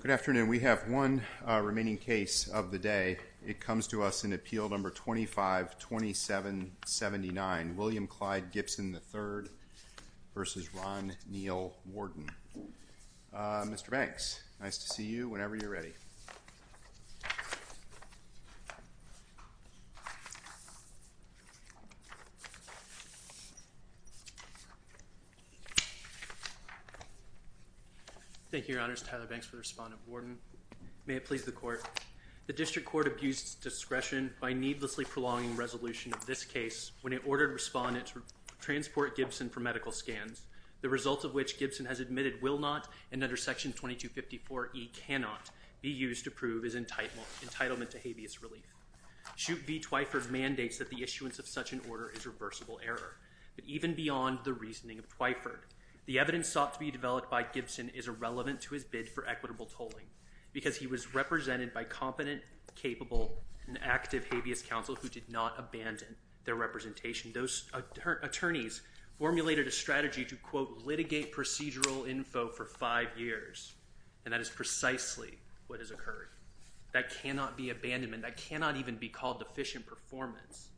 Good afternoon. We have one remaining case of the day. It comes to us in Appeal No. 25-2779 William Clyde Gibson III v. Ron Neal Wharton. Mr. Banks, nice to see you whenever you're ready. Thank you, Your Honors. Tyler Banks for the respondent, Wharton. May it please the Court. The District Court abused discretion by needlessly prolonging resolution of this case when it ordered respondents to transport Gibson for medical scans, the result of which Gibson has admitted will not and under Section 2254E cannot be used to prove his entitlement to habeas relief. Chute v. Twyford mandates that the issuance of such an order is reversible error. But even beyond the reasoning of Twyford, the evidence sought to be developed by Gibson is irrelevant to his bid for equitable tolling because he was represented by competent, capable, and active habeas counsel who did not abandon their representation. Those attorneys formulated a strategy to, quote, litigate procedural info for five years, and that is precisely what has occurred. That cannot be abandonment. That cannot even be called efficient performance.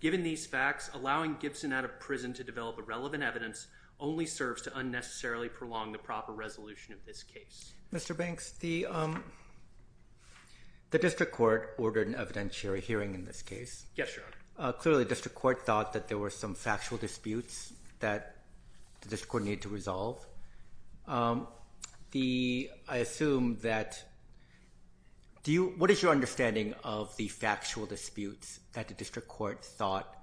Given these facts, allowing Gibson out of prison to develop irrelevant evidence only serves to unnecessarily prolong the proper resolution of this case. Mr. Banks, the District Court ordered an evidentiary hearing in this case. Yes, Your Honor. Clearly, the District Court thought that there were some factual disputes that the District Court needed to resolve. I assume that – what is your understanding of the factual disputes that the District Court thought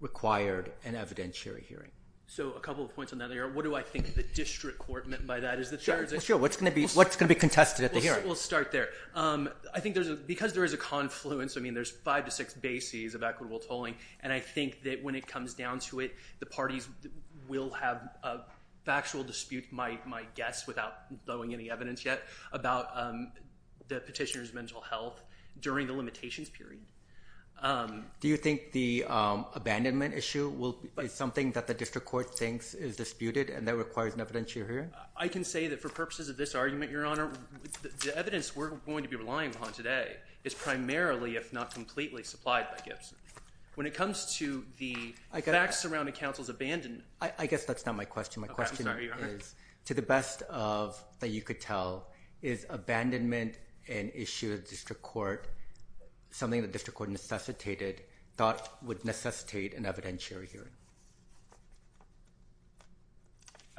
required an evidentiary hearing? So a couple of points on that. What do I think the District Court meant by that? Is this – Sure, sure. What's going to be contested at the hearing? We'll start there. I think because there is a confluence, I mean, there's five to six bases of equitable tolling, and I think that when it comes down to it, the parties will have a factual dispute, my guess, without throwing any evidence yet, about the petitioner's mental health during the limitations period. Do you think the abandonment issue is something that the District Court thinks is disputed and that requires an evidentiary hearing? I can say that for purposes of this argument, Your Honor, the evidence we're going to be relying upon today is primarily, if not completely, supplied by Gibson. When it comes to the facts surrounding counsel's abandonment – I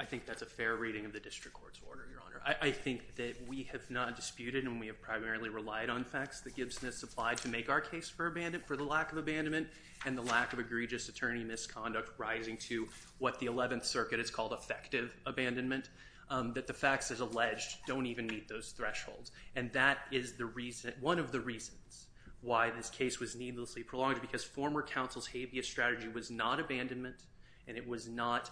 think that's a fair rating of the District Court's order, Your Honor. I think that we have not disputed and we have primarily relied on facts that Gibson has supplied to make our case for the lack of abandonment and the lack of egregious attorney misconduct rising to what the 11th Circuit has called effective abandonment, that the facts as alleged don't even meet those thresholds. And that is one of the reasons why this case was needlessly prolonged, because former counsel's habeas strategy was not abandonment and it was not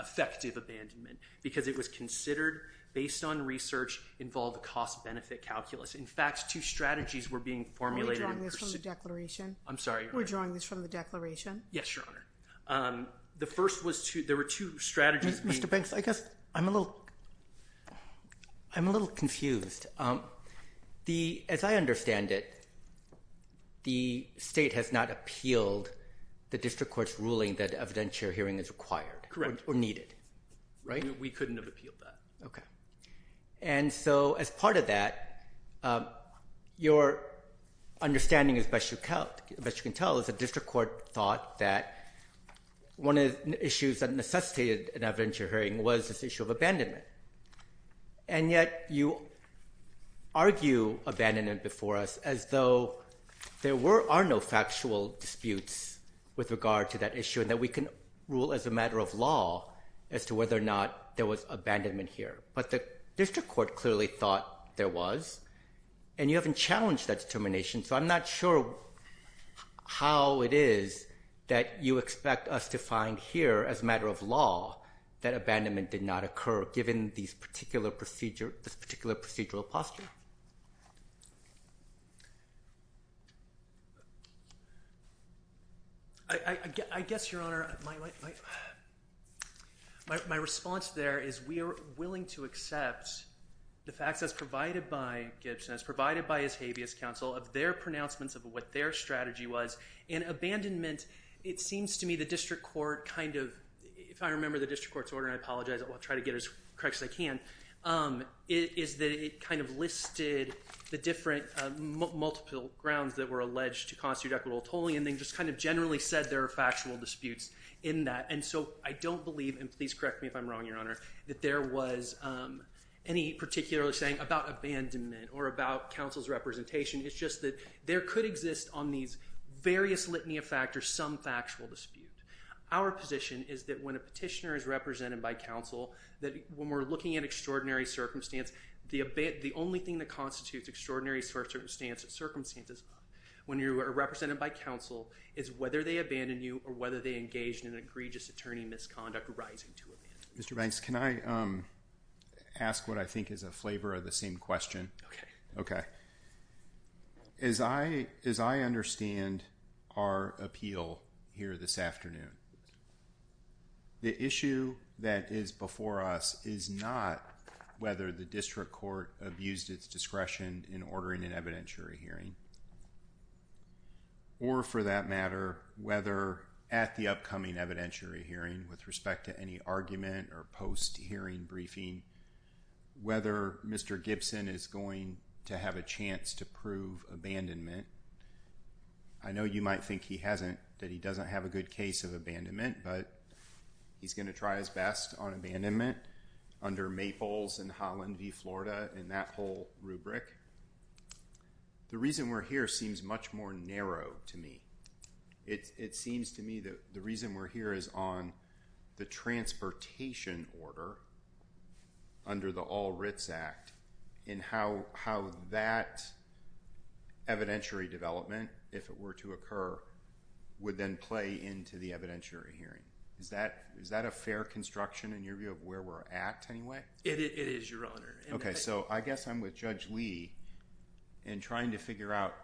effective abandonment, because it was considered, based on research, involved cost-benefit calculus. In fact, two strategies were being formulated. We're drawing this from the declaration? I'm sorry, Your Honor. We're drawing this from the declaration? Yes, Your Honor. The first was two – there were two strategies. Mr. Banks, I guess I'm a little confused. As I understand it, the State has not appealed the District Court's ruling that evidentiary hearing is required or needed, right? We couldn't have appealed that. Okay. And so, as part of that, your understanding, as best you can tell, is that the District Court thought that one of the issues that necessitated an evidentiary hearing was this issue of abandonment. And yet you argue abandonment before us as though there are no factual disputes with regard to that issue and that we can rule as a matter of law as to whether or not there was abandonment here. But the District Court clearly thought there was, and you haven't challenged that determination, so I'm not sure how it is that you expect us to find here as a matter of law that abandonment did not occur, given this particular procedural posture. I guess, Your Honor, my response there is we are willing to accept the facts as provided by Gibson, as provided by Atavius Counsel, of their pronouncements of what their strategy was. And abandonment, it seems to me the District Court kind of, if I remember the District Court's order, and I apologize, I'll try to get as correct as I can, is that it kind of listed the different multiple grounds that were alleged to constitute equitable tolling and then just kind of generally said there are factual disputes in that. And so I don't believe, and please correct me if I'm wrong, Your Honor, that there was any particular thing about abandonment or about counsel's representation. It's just that there could exist on these various litany of factors some factual dispute. Our position is that when a petitioner is represented by counsel, that when we're looking at extraordinary circumstances, the only thing that constitutes extraordinary circumstances, when you are represented by counsel, is whether they abandon you or whether they engage in an egregious attorney misconduct arising to it. Mr. Banks, can I ask what I think is a flavor of the same question? Okay. As I understand our appeal here this afternoon, the issue that is before us is not whether the District Court abused its discretion in ordering an evidentiary hearing or, for that matter, whether at the upcoming evidentiary hearing with respect to any argument or post-hearing briefing, whether Mr. Gibson is going to have a chance to prove abandonment. I know you might think he hasn't, that he doesn't have a good case of abandonment, but he's going to try his best on abandonment under Maples and Holland v. Florida and that whole rubric. The reason we're here seems much more narrow to me. It seems to me that the reason we're here is on the transportation order under the All Writs Act and how that evidentiary development, if it were to occur, would then play into the evidentiary hearing. Is that a fair construction in your view of where we're at anyway? It is, Your Honor. Okay, so I guess I'm with Judge Lee in trying to figure out,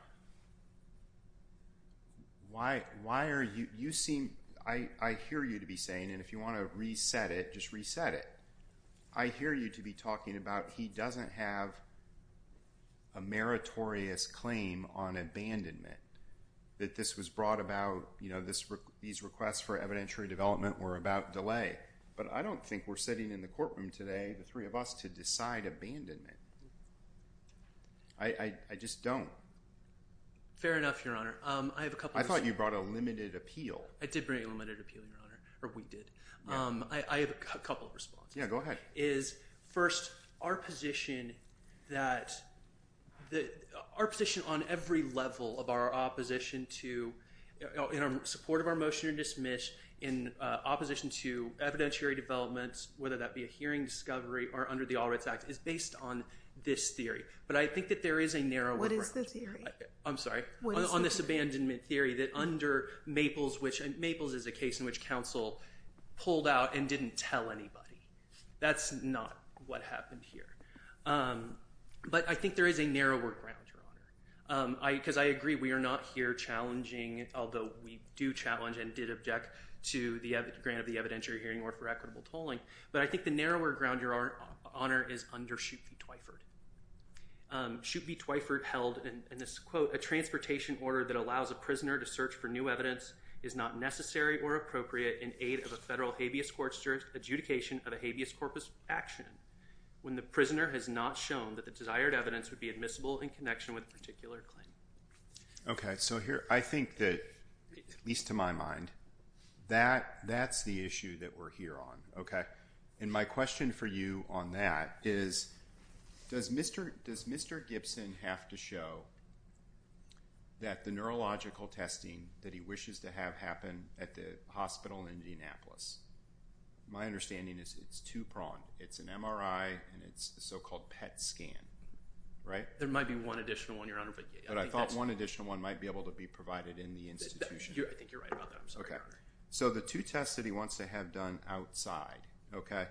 I hear you to be saying, and if you want to reset it, just reset it. I hear you to be talking about he doesn't have a meritorious claim on abandonment, that this was brought about, these requests for evidentiary development were about delay. But I don't think we're sitting in the courtroom today, the three of us, to decide abandonment. I just don't. Fair enough, Your Honor. I thought you brought a limited appeal. I did bring a limited appeal, Your Honor, or we did. I have a couple of responses. Yeah, go ahead. First, our position on every level of our opposition in support of our motion to dismiss in opposition to evidentiary developments, whether that be a hearing discovery or under the All Writs Act, is based on this theory. But I think that there is a narrow difference. What is the theory? I'm sorry. On this abandonment theory that under Maples, which Maples is a case in which counsel pulled out and didn't tell anybody. That's not what happened here. But I think there is a narrower ground, Your Honor. Because I agree, we are not here challenging, although we do challenge and did object to the grant of the evidentiary hearing or for equitable tolling. But I think the narrower ground, Your Honor, is under Shute v. Twyford. Shute v. Twyford held, and this is a quote, a transportation order that allows a prisoner to search for new evidence is not necessary or appropriate in aid of a federal habeas court's adjudication of a habeas corpus action when the prisoner has not shown that the desired evidence would be admissible in connection with a particular claim. Okay. So I think that, at least to my mind, that's the issue that we're here on. Okay. And my question for you on that is, does Mr. Gibson have to show that the neurological testing that he wishes to have happen at the hospital in Indianapolis? My understanding is it's two-pronged. It's an MRI and it's the so-called PET scan, right? There might be one additional one, Your Honor. But I thought one additional one might be able to be provided in the institution. I think you're right about that. I'm sorry. Okay. So the two tests that he wants to have done outside, okay,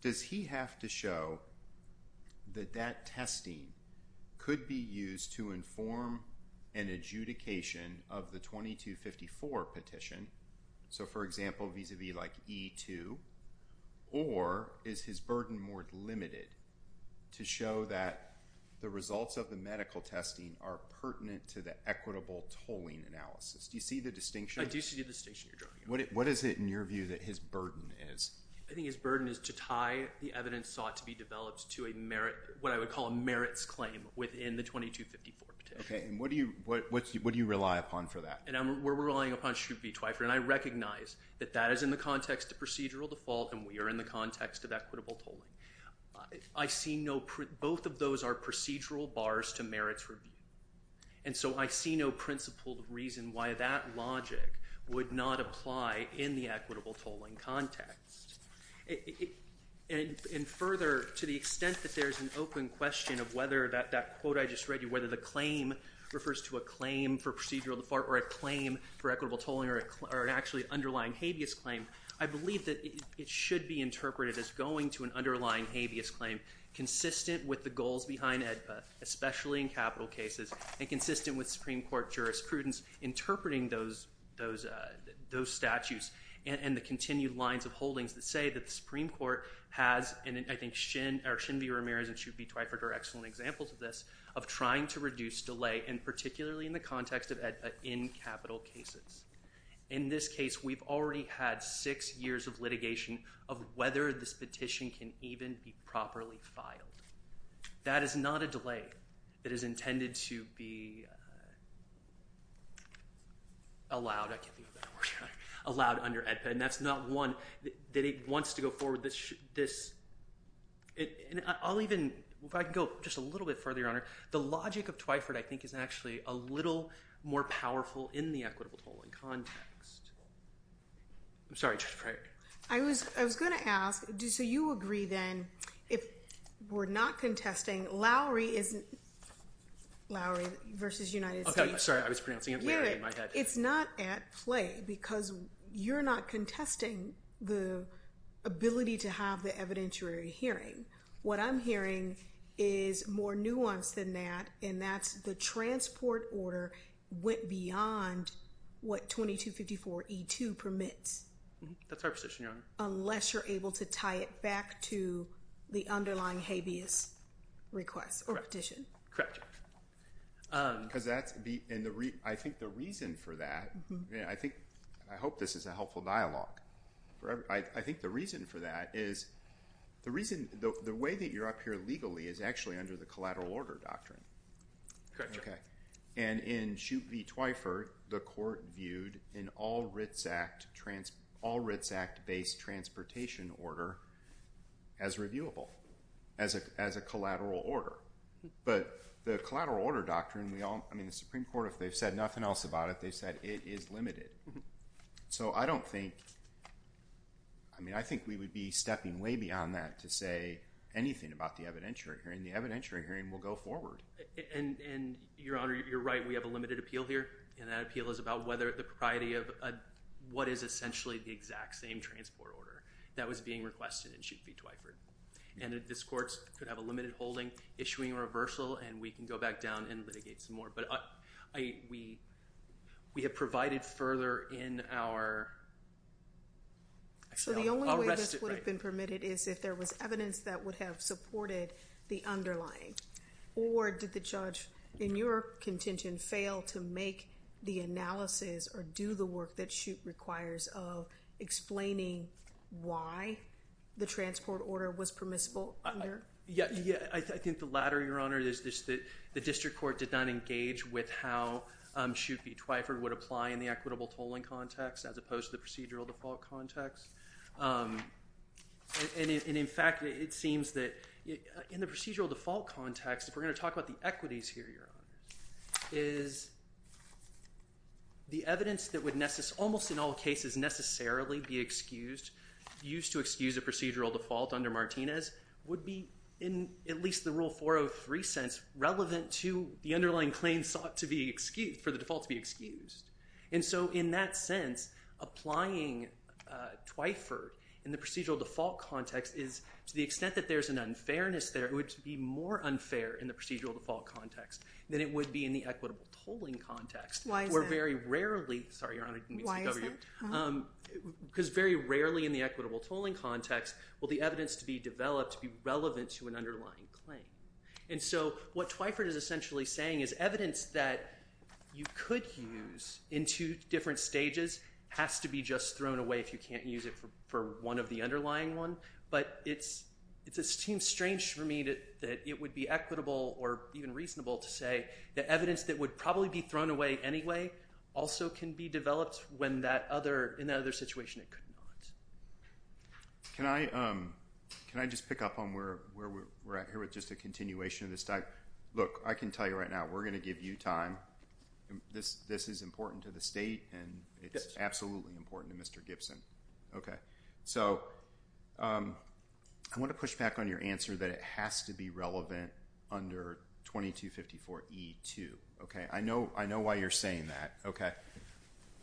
does he have to show that that testing could be used to inform an adjudication of the 2254 petition? So, for example, vis-à-vis like E2, or is his burden more limited to show that the results of the medical testing are pertinent to the equitable tolling analysis? Do you see the distinction? I do see the distinction, Your Honor. What is it, in your view, that his burden is? I think his burden is to tie the evidence sought to be developed to a merit – what I would call a merits claim within the 2254 petition. Okay. And what do you rely upon for that? And we're relying upon Schubert v. Twyford, and I recognize that that is in the context of procedural default and we are in the context of equitable tolling. I see no – both of those are procedural bars to merits review, and so I see no principle of reason why that logic would not apply in the equitable tolling context. And further, to the extent that there's an open question of whether that quote I just read you, whether the claim refers to a claim for procedural default or a claim for equitable tolling or an actually underlying habeas claim, I believe that it should be interpreted as going to an underlying habeas claim consistent with the goals behind it, especially in capital cases, and consistent with Supreme Court jurisprudence interpreting those statutes and the continued lines of holdings that say that the Supreme Court has – and I think Schin or Schin v. Ramirez and Schubert v. Twyford are excellent examples of this – of trying to reduce delay, and particularly in the context of in capital cases. In this case, we've already had six years of litigation of whether this petition can even be properly filed. That is not a delay that is intended to be allowed – I can't think of that word – allowed under EDPA, and that's not one that it wants to go forward. This – and I'll even – if I could go just a little bit further, Your Honor. The logic of Twyford I think is actually a little more powerful in the equitable tolling context. I'm sorry, Justice Breyer. I was going to ask, so you agree then if we're not contesting – Lowry v. United States. Okay. Sorry, I was pronouncing it – Hear it. It's not at play because you're not contesting the ability to have the evidentiary hearing. What I'm hearing is more nuanced than that, and that's the transport order went beyond what 2254E2 permits. That's our position, Your Honor. Unless you're able to tie it back to the underlying habeas request or petition. Because that's the – and I think the reason for that – I hope this is a helpful dialogue. I think the reason for that is the reason – the way that you're up here legally is actually under the collateral order doctrine. Correct, Your Honor. Okay. And in the Twyford, the court viewed an all-writs act-based transportation order as reviewable, as a collateral order. But the collateral order doctrine – I mean, the Supreme Court, if they said nothing else about it, they said it is limited. So I don't think – I mean, I think we would be stepping way beyond that to say anything about the evidentiary hearing. The evidentiary hearing will go forward. And, Your Honor, you're right. We have a limited appeal here. And that appeal is about whether the propriety of what is essentially the exact same transport order that was being requested in Chute v. Twyford. And this court could have a limited holding issuing a reversal, and we can go back down and litigate some more. But we have provided further in our – actually, I'll rest it right here. The question is if there was evidence that would have supported the underlying. Or did the judge, in your contention, fail to make the analysis or do the work that Chute requires of explaining why the transport order was permissible? Yes. I think the latter, Your Honor. The district court did not engage with how Chute v. Twyford would apply in the equitable tolling context as opposed to the procedural default context. And, in fact, it seems that in the procedural default context, if we're going to talk about the equities here, Your Honor, is the evidence that would almost in all cases necessarily be used to excuse a procedural default under Martinez would be, in at least the Rule 403 sense, relevant to the underlying claim sought for the default to be excused. And so in that sense, applying Twyford in the procedural default context is, to the extent that there's an unfairness there, it would be more unfair in the procedural default context than it would be in the equitable tolling context. Why is that? Because very rarely in the equitable tolling context will the evidence to be developed be relevant to an underlying claim. And so what Twyford is essentially saying is evidence that you could use in two different stages has to be just thrown away if you can't use it for one of the underlying ones. But it seems strange to me that it would be equitable or even reasonable to say that evidence that would probably be thrown away anyway also can be developed when in that other situation it could not. Can I just pick up on where we're at here with just a continuation of this? Look, I can tell you right now, we're going to give you time. This is important to the state, and it's absolutely important to Mr. Gibson. Okay. So I want to push back on your answer that it has to be relevant under 2254E2. Okay. I know why you're saying that.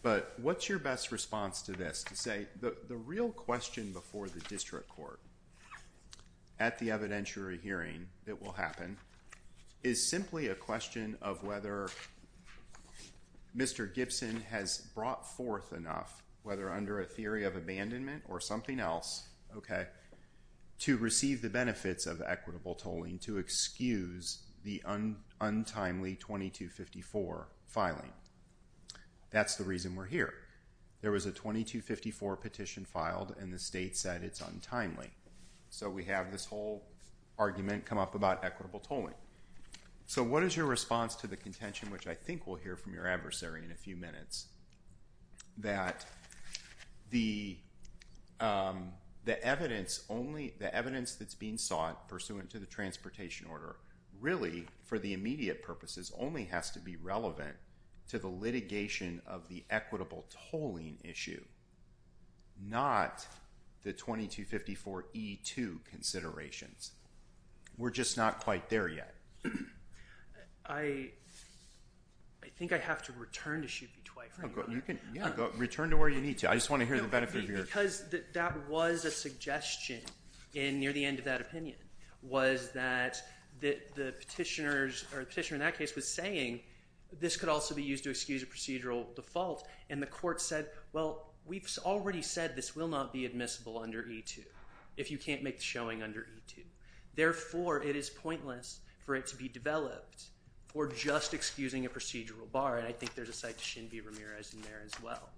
But what's your best response to this? I'd like to say the real question before the district court at the evidentiary hearing that will happen is simply a question of whether Mr. Gibson has brought forth enough, whether under a theory of abandonment or something else, okay, to receive the benefits of equitable tolling to excuse the untimely 2254 filing. That's the reason we're here. There was a 2254 petition filed, and the state said it's untimely. So we have this whole argument come up about equitable tolling. So what is your response to the contention, which I think we'll hear from your adversary in a few minutes, that the evidence that's being sought pursuant to the transportation order really, for the immediate purposes, only has to be relevant to the litigation of the equitable tolling issue, not the 2254E2 considerations? We're just not quite there yet. I think I have to return to Sheepie twice. Yeah, go. Return to where you need to. I just want to hear the benefit of your answer. Because that was a suggestion near the end of that opinion, was that the petitioner in that case was saying this could also be used to excuse a procedural default, and the court said, well, we've already said this will not be admissible under E2 if you can't make the showing under E2. Therefore, it is pointless for it to be developed for just excusing a procedural bar, and I think there's a side to Shinbi Ramirez in there as well.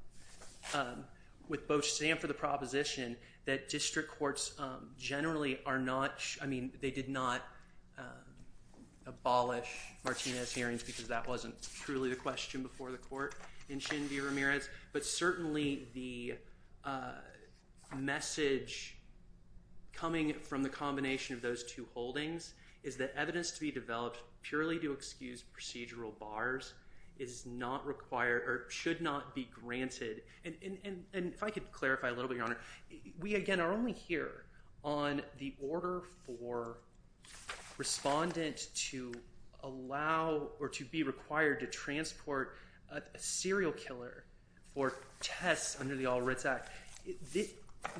With both Stan for the proposition that district courts generally are not, I mean, they did not abolish Martinez hearings because that wasn't truly the question before the court in Shinbi Ramirez, but certainly the message coming from the combination of those two holdings is that evidence to be developed purely to excuse procedural bars is not required or should not be granted. And if I could clarify a little bit, Your Honor, we, again, are only here on the order for respondent to allow or to be required to transport a serial killer or test under the All Writs Act.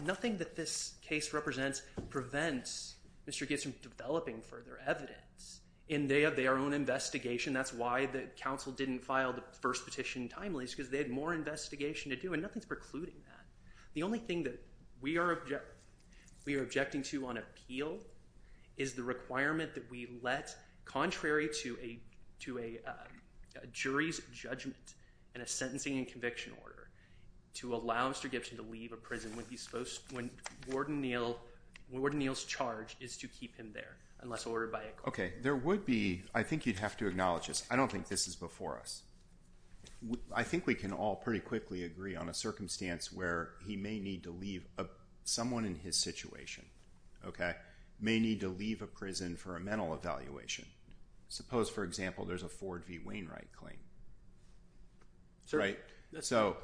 Nothing that this case represents prevents Mr. Gibson from developing further evidence in their own investigation. That's why the counsel didn't file the first petition timely, because they had more investigation to do, and nothing's precluding that. The only thing that we are objecting to on appeal is the requirement that we let, contrary to a jury's judgment in a sentencing and conviction order, to allow Mr. Gibson to leave a prison when Warden Neal's charge is to keep him there unless ordered by a court. Okay. There would be – I think you'd have to acknowledge this. I don't think this is before us. I think we can all pretty quickly agree on a circumstance where he may need to leave – someone in his situation may need to leave a prison for a mental evaluation. Suppose, for example, there's a Ford v. Wainwright claim. So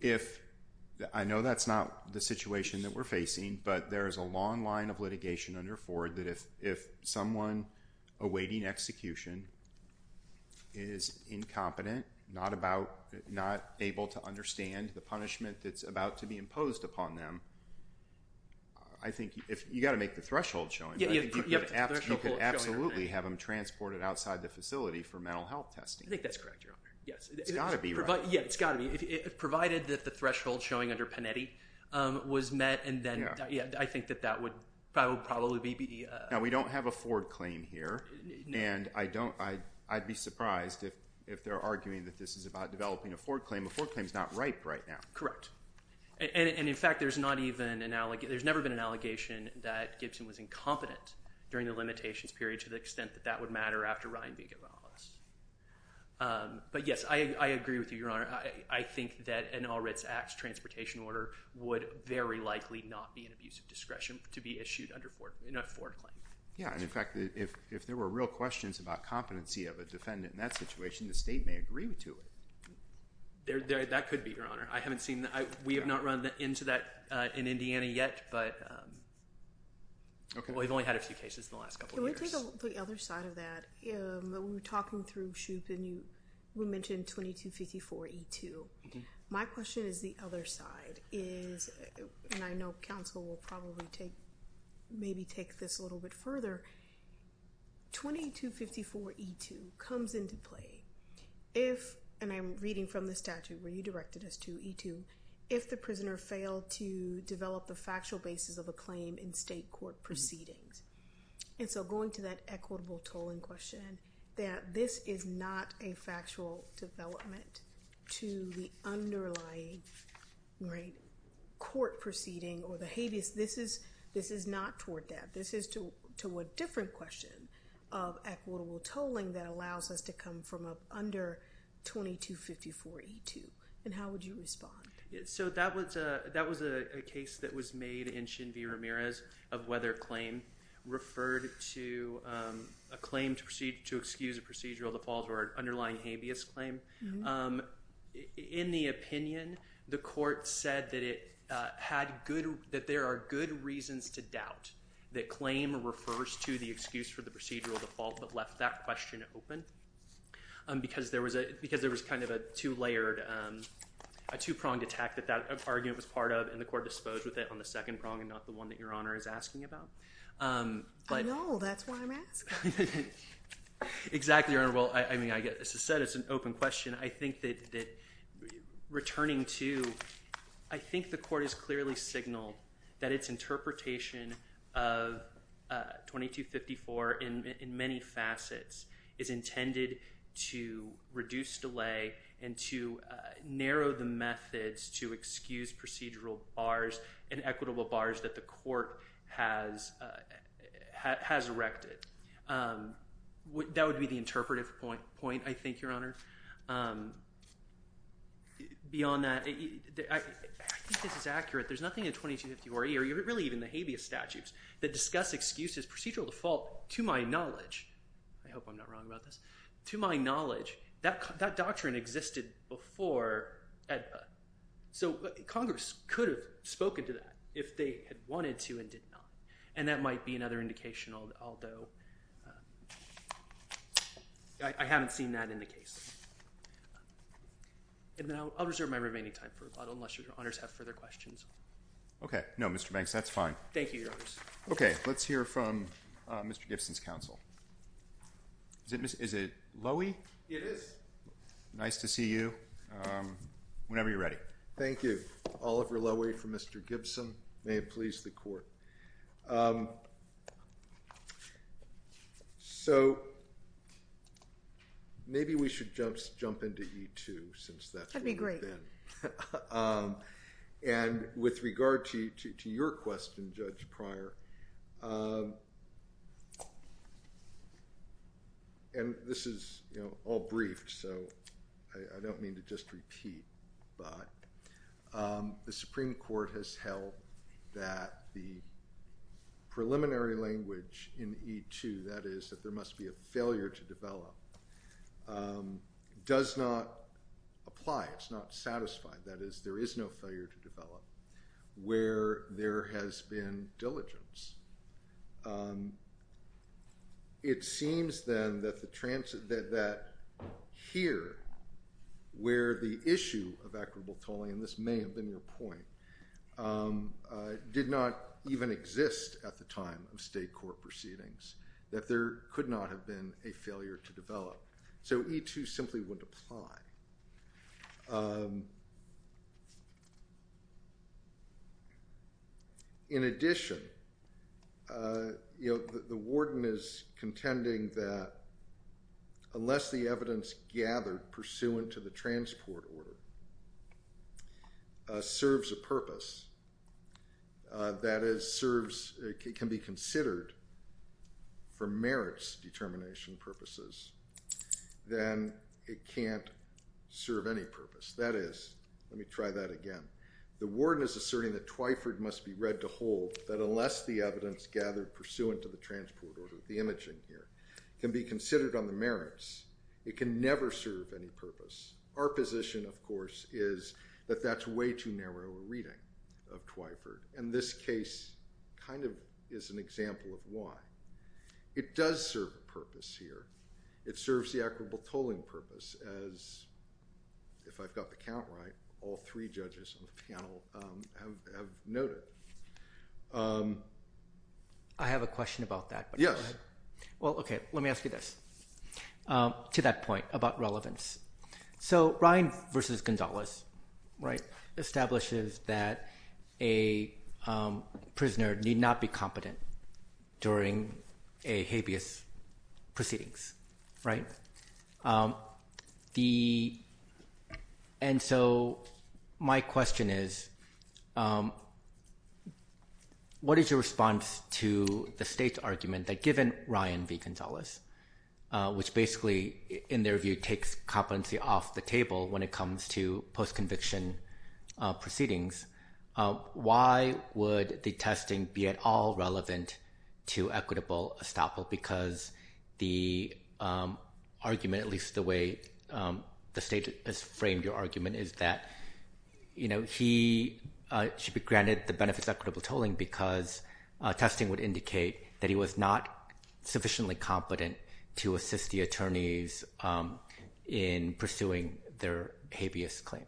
if – I know that's not the situation that we're facing, but there is a long line of litigation under Ford that if someone awaiting execution is incompetent, not able to understand the punishment that's about to be imposed upon them, I think you've got to make the threshold showing. You could absolutely have them transported outside the facility for mental health testing. I think that's correct, Your Honor. It's got to be right. Yes, it's got to be. Provided that the threshold showing under Panetti was met, and then – I think that that would probably be the – Now, we don't have a Ford claim here, and I don't – I'd be surprised if they're arguing that this is about developing a Ford claim. A Ford claim is not ripe right now. Correct. And, in fact, there's not even an – there's never been an allegation that Gibson was incompetent during the limitations period to the extent that that would matter after Ryan being released. But, yes, I agree with you, Your Honor. I think that an All Writs Act transportation order would very likely not be an abuse of discretion to be issued under a Ford claim. Yeah, and, in fact, if there were real questions about competency of a defendant in that situation, the state may agree to it. That could be, Your Honor. I haven't seen – we have not run into that in Indiana yet, but – we've only had a few cases in the last couple of years. So let's look at the other side of that. When we were talking through shoots, and you – we mentioned 2254E2. My question is the other side is – and I know counsel will probably take – maybe take this a little bit further. 2254E2 comes into play if – and I'm reading from the statute where you directed us to, E2 – if the prisoner failed to develop the factual basis of a claim in state court proceedings. And so going to that equitable tolling question, that this is not a factual development to the underlying court proceeding or the habeas. This is not toward that. This is to a different question of equitable tolling that allows us to come from under 2254E2. And how would you respond? So that was a case that was made in Shin V. Ramirez of whether a claim referred to a claim to excuse a procedural default or an underlying habeas claim. In the opinion, the court said that it had good – that there are good reasons to doubt that claim refers to the excuse for the procedural default, but left that question open because there was a – because there was kind of a two-layered – a two-pronged attack that that argument was part of, and the court disposed with it on the second prong and not the one that Your Honor is asking about. I know. That's why I'm asking. Exactly, Your Honor. Well, I mean, I get this is said. It's an open question. I think that returning to – I think the court has clearly signaled that its interpretation of 2254 in many facets is intended to reduce delay and to narrow the methods to excuse procedural bars and equitable bars that the court has erected. That would be the interpretive point, I think, Your Honor. Beyond that, I think this is accurate. There's nothing in 2254A or really even the habeas statutes that discuss excuses procedural default to my knowledge. I hope I'm not wrong about this. To my knowledge, that doctrine existed before EDFA, so Congress could have spoken to that if they had wanted to and did not, and that might be another indication, although I haven't seen that in the case. I'll reserve my remaining time for a thought unless Your Honors have further questions. Okay. No, Mr. Banks, that's fine. Thank you, Your Honors. Okay. Let's hear from Mr. Gibson's counsel. Is it Loewy? It is. Nice to see you whenever you're ready. Thank you. Oliver Loewy for Mr. Gibson. May it please the court. So maybe we should just jump into E2 since that's where we've been. And with regard to your question, Judge Pryor, and this is all brief, so I don't mean to just repeat, but the Supreme Court has held that the preliminary language in E2, that is, that there must be a failure to develop, does not apply. It's not satisfied, that is, there is no failure to develop where there has been diligence. It seems, then, that here, where the issue of equitable polling, and this may have been your point, did not even exist at the time of state court proceedings, that there could not have been a failure to develop. So E2 simply would apply. In addition, the warden is contending that unless the evidence gathered pursuant to the transport order serves a purpose, that is, serves, can be considered for merits determination purposes, then it can't serve any purpose. That is, let me try that again. The warden is asserting that Twyford must be read to hold that unless the evidence gathered pursuant to the transport order, the image in here, can be considered on the merits, it can never serve any purpose. Our position, of course, is that that's way too narrow a reading of Twyford, and this case kind of is an example of why. It does serve a purpose here. It serves the equitable polling purpose, as, if I've got the count right, all three judges on the panel have noted. I have a question about that. Yes. Well, okay, let me ask you this, to that point about relevance. So Ryan v. Gonzalez establishes that a prisoner need not be competent during a habeas proceedings, right? And so my question is, what is your response to the state's argument that given Ryan v. Gonzalez, which basically, in their view, takes competency off the table when it comes to post-conviction proceedings, why would the testing be at all relevant to equitable estoppel? Because the argument, at least the way the state has framed your argument, is that, you know, he should be granted the benefits of equitable tolling because testing would indicate that he was not sufficiently competent to assist the attorneys in pursuing their habeas claims.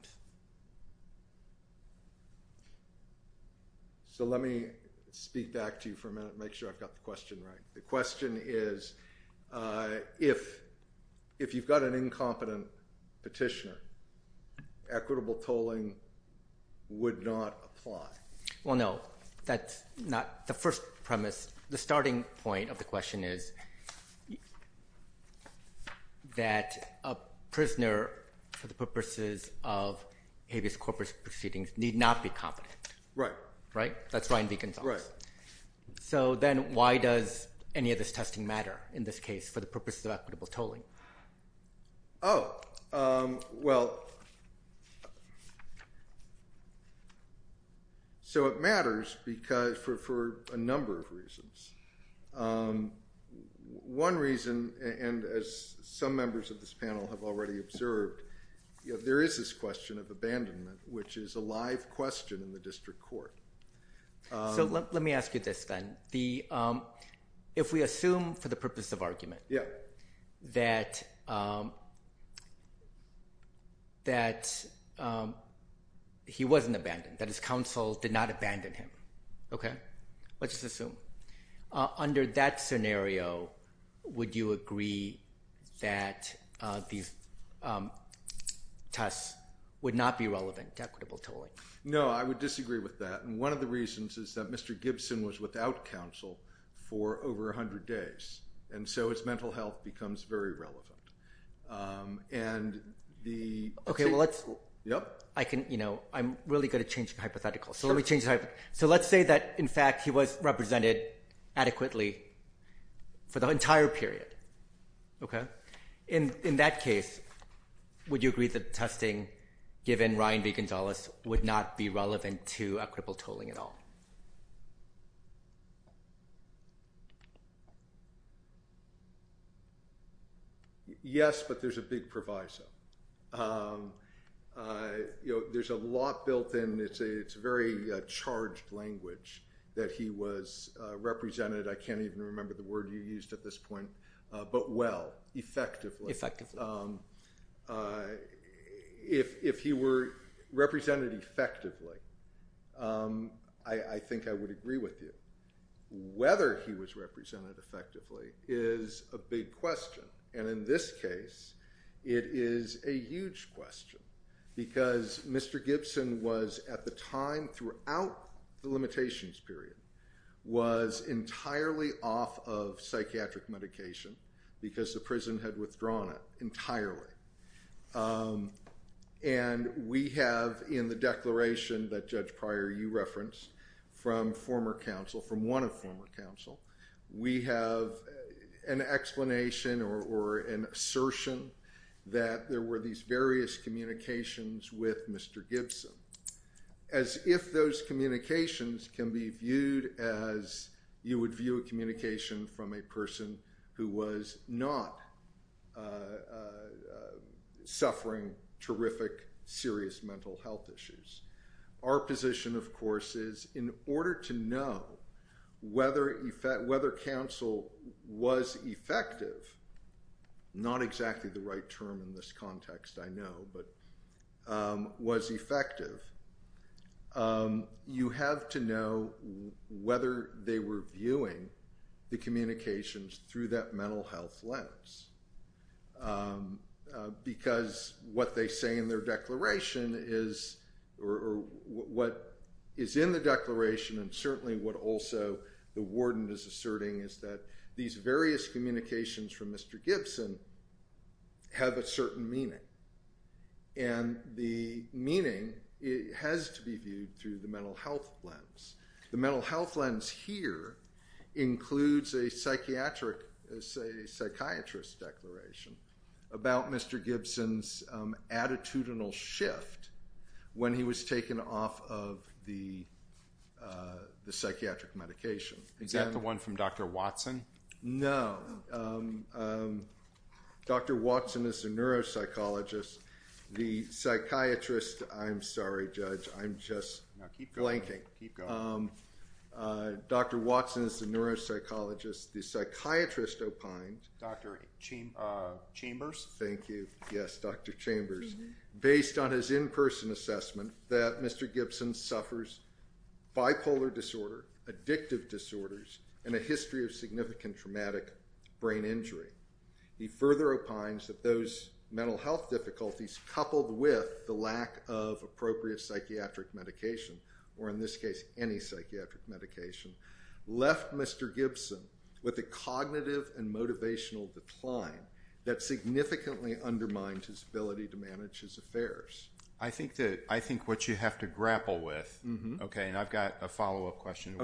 So let me speak back to you for a minute and make sure I've got the question right. The question is, if you've got an incompetent petitioner, equitable tolling would not apply. Well, no, that's not the first premise. The starting point of the question is that a prisoner, for the purposes of habeas corpus proceedings, need not be competent. Right. Right? That's Ryan v. Gonzalez. Right. So then why does any of this testing matter in this case for the purpose of equitable tolling? Oh, well, so it matters for a number of reasons. One reason, and as some members of this panel have already observed, there is this question of abandonment, which is a live question in the district court. So let me ask you this then. If we assume for the purpose of argument that he wasn't abandoned, that his counsel did not abandon him, okay? Let's just assume. Under that scenario, would you agree that these tests would not be relevant to equitable tolling? No, I would disagree with that. And one of the reasons is that Mr. Gibson was without counsel for over 100 days, and so his mental health becomes very relevant. Okay, well, I'm really going to change the hypothetical. So let's say that, in fact, he was represented adequately for the entire period. Okay. In that case, would you agree that testing, given Ryan v. Gonzalez, would not be relevant to equitable tolling at all? Yes, but there's a big proviso. There's a lot built in. It's very charged language that he was represented, I can't even remember the word you used at this point, but well, effectively. Effectively. If he were represented effectively, I think I would agree with you. Whether he was represented effectively is a big question, and in this case, it is a huge question. Because Mr. Gibson was, at the time, throughout the limitations period, was entirely off of psychiatric medication because the prison had withdrawn it entirely. And we have, in the declaration that Judge Pryor, you referenced, from former counsel, from one of former counsel, we have an explanation or an assertion that there were these various communications with Mr. Gibson. As if those communications can be viewed as you would view a communication from a person who was not suffering terrific, serious mental health issues. Our position, of course, is in order to know whether counsel was effective, not exactly the right term in this context, I know, but was effective, you have to know whether they were viewing the communications through that mental health lens. Because what they say in their declaration is, or what is in the declaration, and certainly what also the warden is asserting, is that these various communications from Mr. Gibson have a certain meaning. And the meaning has to be viewed through the mental health lens. The mental health lens here includes a psychiatrist's declaration about Mr. Gibson's attitudinal shift when he was taken off of the psychiatric medication. Is that the one from Dr. Watson? No. Dr. Watson is a neuropsychologist. The psychiatrist – I'm sorry, Judge, I'm just blanking. Dr. Watson is a neuropsychologist. The psychiatrist opines – Dr. Chambers? Thank you. Yes, Dr. Chambers. Based on his in-person assessment that Mr. Gibson suffers bipolar disorder, addictive disorders, and a history of significant traumatic brain injury. He further opines that those mental health difficulties coupled with the lack of appropriate psychiatric medication, or in this case, any psychiatric medication, left Mr. Gibson with a cognitive and motivational decline that significantly undermines his ability to manage his affairs. I think what you have to grapple with – and I've got a follow-up question.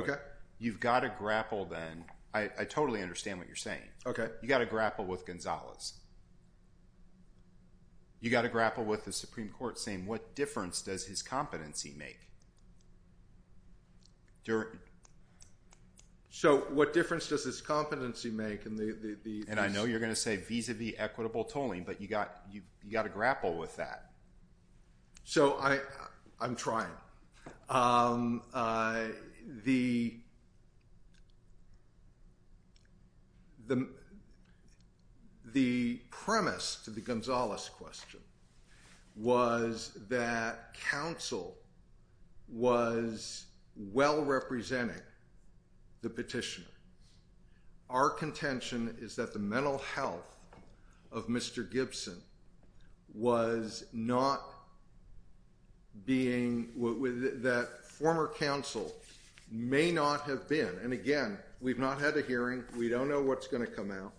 You've got to grapple then. I totally understand what you're saying. Okay. You've got to grapple with Gonzales. You've got to grapple with the Supreme Court saying what difference does his competency make? So what difference does his competency make? And I know you're going to say vis-à-vis equitable tolling, but you've got to grapple with that. So I'm trying. The premise to the Gonzales question was that counsel was well-representing the petitioner. Our contention is that the mental health of Mr. Gibson was not being – that former counsel may not have been – and again, we've not had a hearing. We don't know what's going to come out.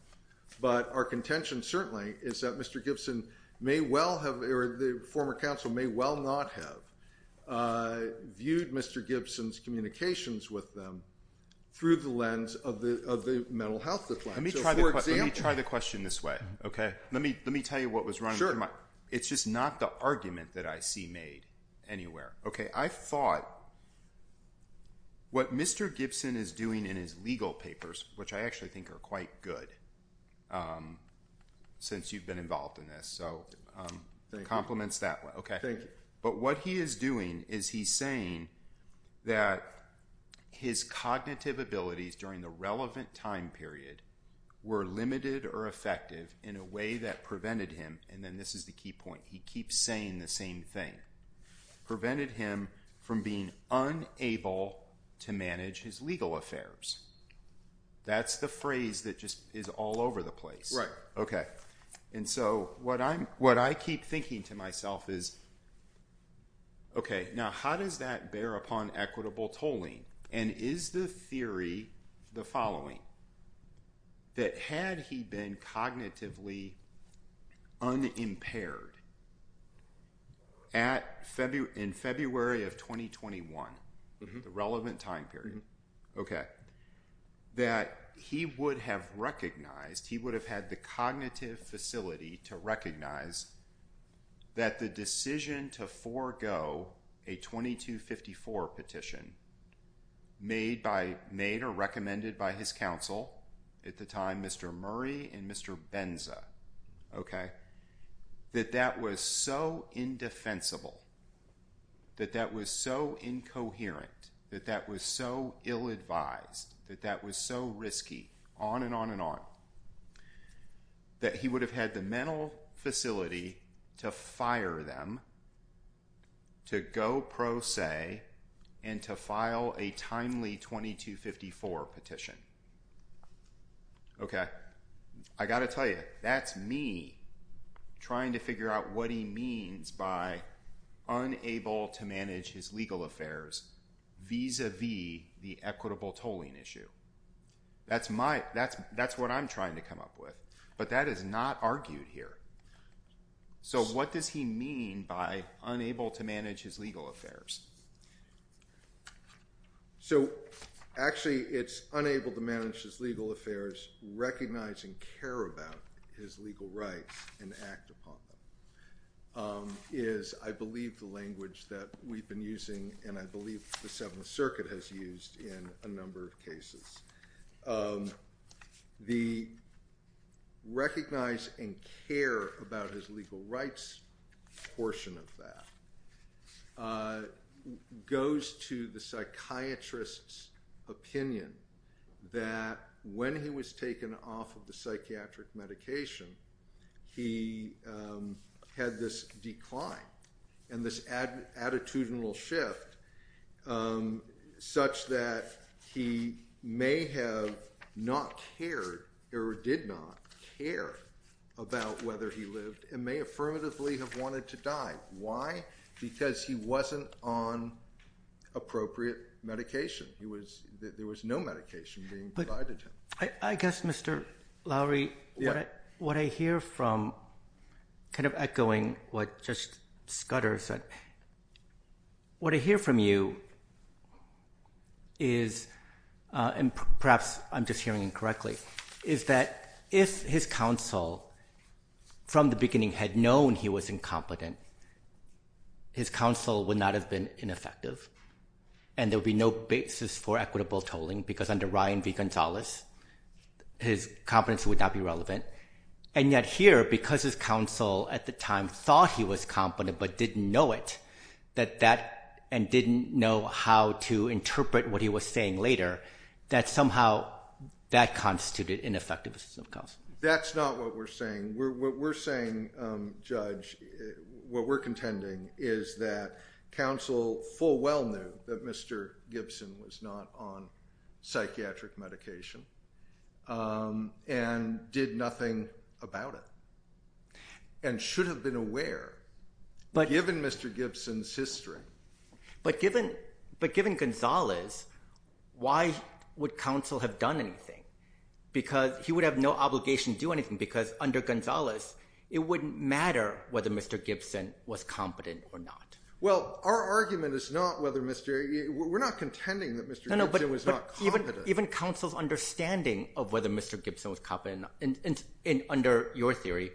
But our contention certainly is that Mr. Gibson may well have – or the former counsel may well not have viewed Mr. Gibson's communications with them through the lens of the mental health decline. Let me try the question this way. Okay? Let me tell you what was wrong. It's just not the argument that I see made anywhere. Okay, I thought what Mr. Gibson is doing in his legal papers, which I actually think are quite good since you've been involved in this, so compliments that. Thank you. But what he is doing is he's saying that his cognitive abilities during the relevant time period were limited or effective in a way that prevented him – and then this is the key point. He keeps saying the same thing. Prevented him from being unable to manage his legal affairs. That's the phrase that just is all over the place. Okay. And so what I keep thinking to myself is, okay, now how does that bear upon equitable tolling? And is the theory the following, that had he been cognitively unimpaired in February of 2021, the relevant time period, okay, that he would have recognized – he would have had the cognitive facility to recognize that the decision to forego a 2254 petition made or recommended by his counsel at the time, Mr. Murray and Mr. Benza, okay, that that was so indefensible, that that was so incoherent, that that was so ill-advised, that that was so risky, on and on and on, that he would have had the mental facility to fire them, to go pro se, and to file a timely 2254 petition. Okay. I got to tell you, that's me trying to figure out what he means by unable to manage his legal affairs vis-a-vis the equitable tolling issue. That's my – that's what I'm trying to come up with. But that is not argued here. So what does he mean by unable to manage his legal affairs? So actually, it's unable to manage his legal affairs, recognize and care about his legal rights, and act upon them, is, I believe, the language that we've been using, and I believe the Seventh Circuit has used in a number of cases. The recognize and care about his legal rights portion of that goes to the psychiatrist's opinion that when he was taken off of the psychiatric medication, he had this decline and this attitudinal shift, such that he may have not cared or did not care about whether he lived and may affirmatively have wanted to die. Why? Because he wasn't on appropriate medication. There was no medication being provided to him. I guess, Mr. Lowery, what I hear from – kind of echoing what just Scudder said – what I hear from you is – and perhaps I'm just hearing incorrectly – is that if his counsel from the beginning had known he was incompetent, his counsel would not have been ineffective. And there would be no basis for equitable tolling, because under Ryan v. Gonzalez, his competence would not be relevant. And yet here, because his counsel at the time thought he was competent but didn't know it, and didn't know how to interpret what he was saying later, that somehow that constituted ineffectiveness of counsel. That's not what we're saying. What we're saying, Judge, what we're contending, is that counsel full well knew that Mr. Gibson was not on psychiatric medication and did nothing about it and should have been aware, given Mr. Gibson's history. But given Gonzalez, why would counsel have done anything? Because he would have no obligation to do anything, because under Gonzalez, it wouldn't matter whether Mr. Gibson was competent or not. Well, our argument is not whether Mr. – we're not contending that Mr. Gibson was not competent. Even counsel's understanding of whether Mr. Gibson was competent, under your theory,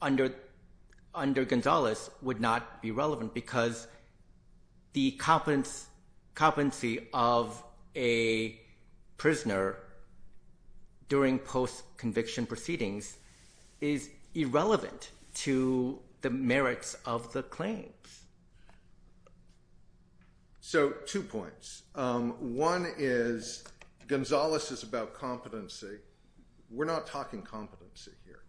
under Gonzalez would not be relevant because the competency of a prisoner during post-conviction proceedings is irrelevant to the merits of the claims. So two points. One is Gonzalez is about competency. We're not talking competency here.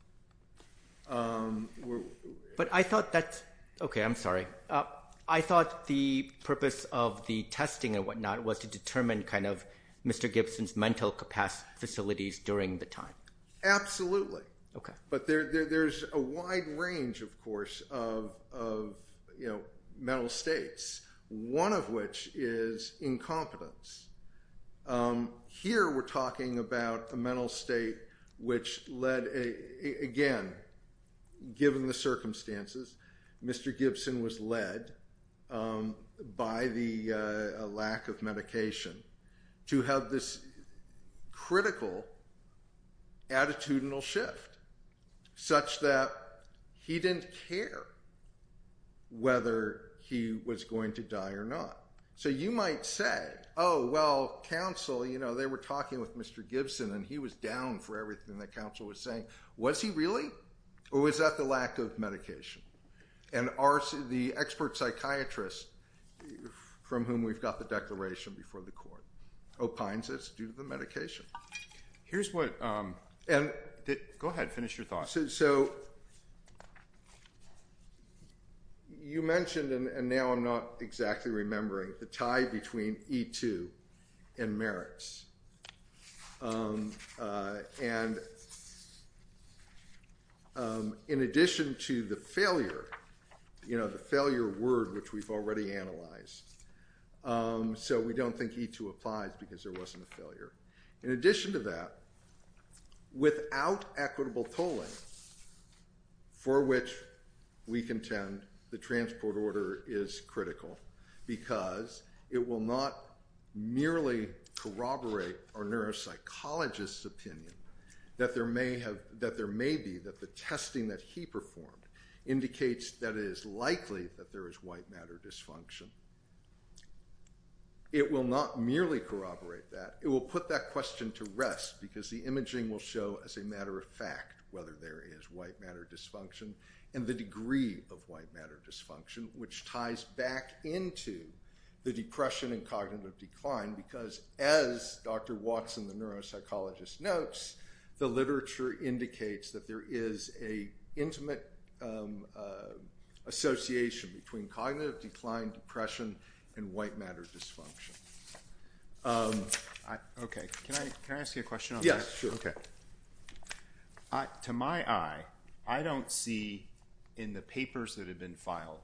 But I thought that's – okay, I'm sorry. I thought the purpose of the testing and whatnot was to determine kind of Mr. Gibson's mental capacity facilities during the time. Absolutely. But there's a wide range, of course, of mental states, one of which is incompetence. Here we're talking about a mental state which led – again, given the circumstances, Mr. Gibson was led by the lack of medication to have this critical attitudinal shift such that he didn't care whether he was going to die or not. So you might say, oh, well, counsel, you know, they were talking with Mr. Gibson, and he was down for everything that counsel was saying. Was he really? Or was that the lack of medication? And the expert psychiatrist from whom we've got the declaration before the court opines it's due to the medication. Here's what – go ahead. Finish your thought. So you mentioned, and now I'm not exactly remembering, the tie between E2 and merits. And in addition to the failure, you know, the failure word which we've already analyzed, so we don't think E2 applies because there wasn't a failure. In addition to that, without equitable polling, for which we contend the transport order is critical because it will not merely corroborate our neuropsychologist's opinion that there may be – that the testing that he performed indicates that it is likely that there is white matter dysfunction. It will not merely corroborate that. It will put that question to rest because the imaging will show as a matter of fact whether there is white matter dysfunction and the degree of white matter dysfunction, which ties back into the depression and cognitive decline. Because as Dr. Watson, the neuropsychologist, notes, the literature indicates that there is an intimate association between cognitive decline, depression, and white matter dysfunction. Okay, can I ask you a question on this? Yes, sure. To my eye, I don't see in the papers that have been filed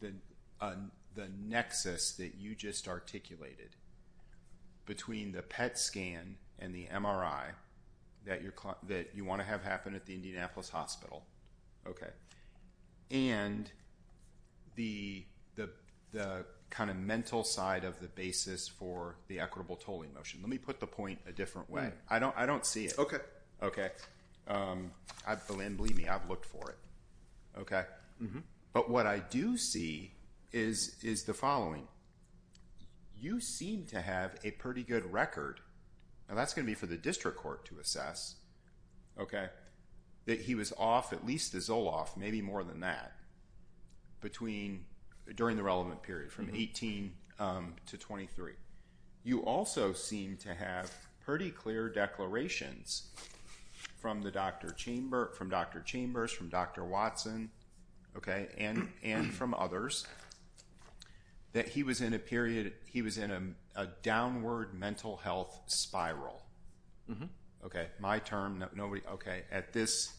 the nexus that you just articulated between the PET scan and the MRI that you want to have happen at the Indianapolis Hospital. Okay. And the kind of mental side of the basis for the equitable polling motion. Let me put the point a different way. I don't see it. Belin, believe me, I've looked for it. Okay. But what I do see is the following. You seem to have a pretty good record – and that's going to be for the district court to assess – that he was off, at least his OLAF, maybe more than that, during the relevant period, from 18 to 23. You also seem to have pretty clear declarations from Dr. Chambers, from Dr. Watson, and from others, that he was in a downward mental health spiral. Okay, my term, nobody – okay, at this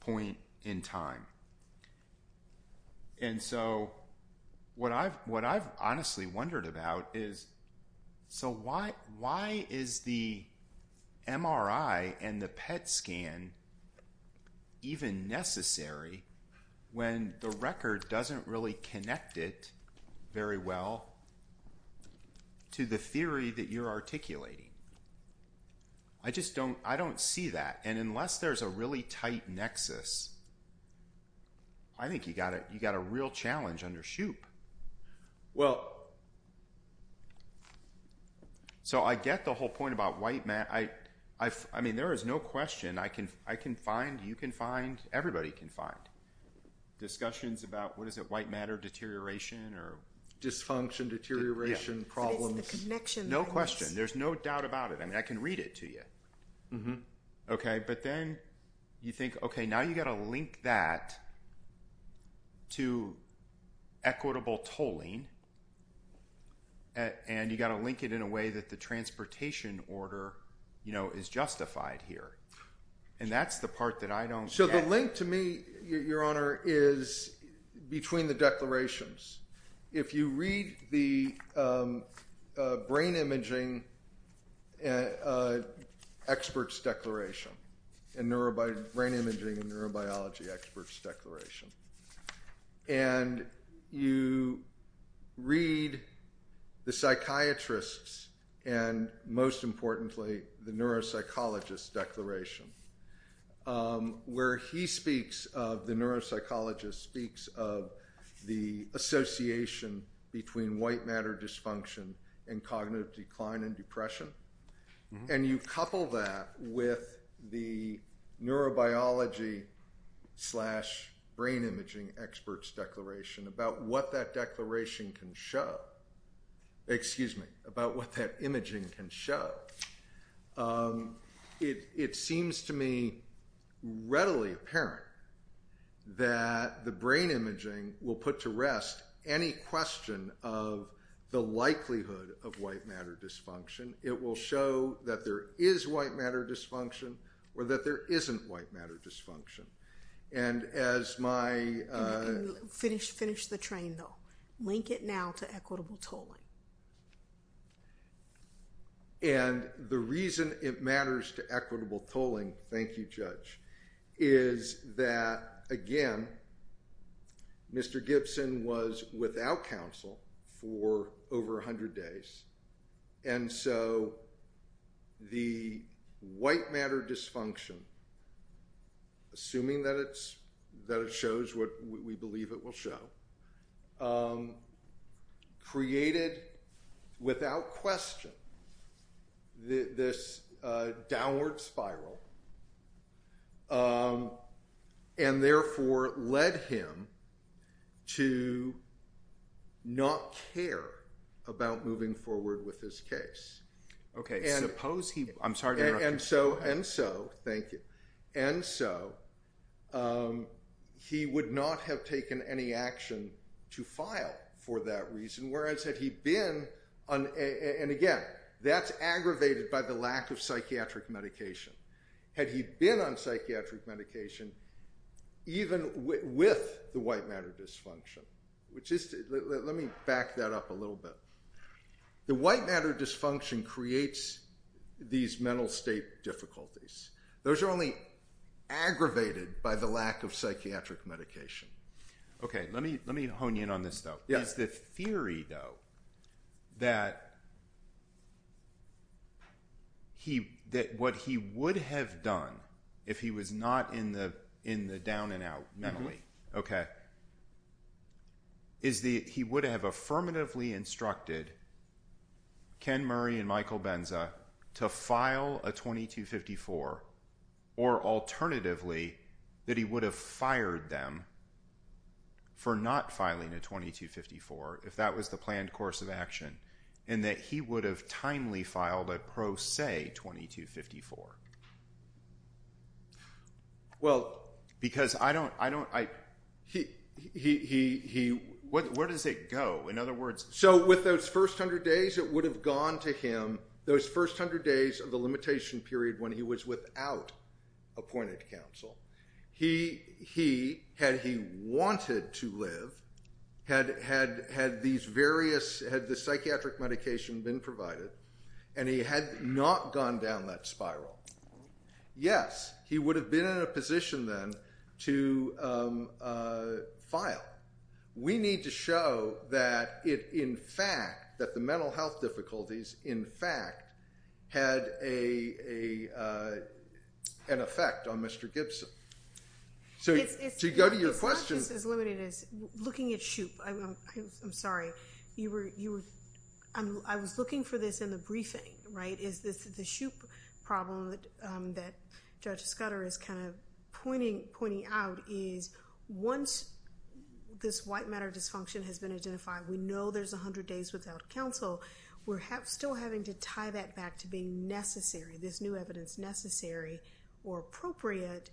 point in time. And so what I've honestly wondered about is, so why is the MRI and the PET scan even necessary when the record doesn't really connect it very well to the theory that you're articulating? I just don't see that. And unless there's a really tight nexus, I think you've got a real challenge under SHUPE. So I get the whole point about white matter. I mean, there is no question. I can find, you can find, everybody can find discussions about, what is it, white matter deterioration or – Dysfunction, deterioration, problems. No question. There's no doubt about it. I mean, I can read it to you. Okay, but then you think, okay, now you've got to link that to equitable tolling, and you've got to link it in a way that the transportation order is justified here. And that's the part that I don't get. So the link to me, Your Honor, is between the declarations. If you read the brain imaging experts' declaration, brain imaging and neurobiology experts' declaration, and you read the psychiatrist's and, most importantly, the neuropsychologist's declaration, where he speaks of, the neuropsychologist speaks of, the association between white matter dysfunction and cognitive decline and depression, and you couple that with the neurobiology slash brain imaging experts' declaration about what that declaration can show, excuse me, about what that imaging can show, it seems to me readily apparent that the brain imaging will put to rest any question of the likelihood of white matter dysfunction. It will show that there is white matter dysfunction or that there isn't white matter dysfunction. And as my – Finish the training, though. Link it now to equitable tolling. And the reason it matters to equitable tolling, thank you, Judge, is that, again, Mr. Gibson was without counsel for over 100 days. And so the white matter dysfunction, assuming that it shows what we believe it will show, created, without question, this downward spiral, and therefore led him to not care about moving forward with his case. Okay, suppose he – I'm sorry to interrupt. And so, and so, thank you, and so, he would not have taken any action to file for that reason, whereas had he been – and again, that's aggravated by the lack of psychiatric medication. Had he been on psychiatric medication, even with the white matter dysfunction, which is – let me back that up a little bit. The white matter dysfunction creates these mental state difficulties. Those are only aggravated by the lack of psychiatric medication. Okay, let me hone you in on this, though. There's this theory, though, that what he would have done if he was not in the down-and-out memory is he would have affirmatively instructed Ken Murray and Michael Benza to file a 2254, or alternatively that he would have fired them for not filing a 2254 if that was the planned course of action, and that he would have timely filed a pro se 2254. Well, because I don't – he – where does it go? In other words – so with those first hundred days, it would have gone to him, those first hundred days of the limitation period when he was without appointed counsel. He – had he wanted to live, had these various – had the psychiatric medication been provided, and he had not gone down that spiral, yes, he would have been in a position then to file. We need to show that it in fact – that the mental health difficulties in fact had an effect on Mr. Gibson. So to go to your question – I was looking for this in the briefing, right, is this the Shoup problem that Judge Scudder is kind of pointing out is once this white matter dysfunction has been identified, we know there's a hundred days without counsel. We're still having to tie that back to being necessary, this new evidence necessary or appropriate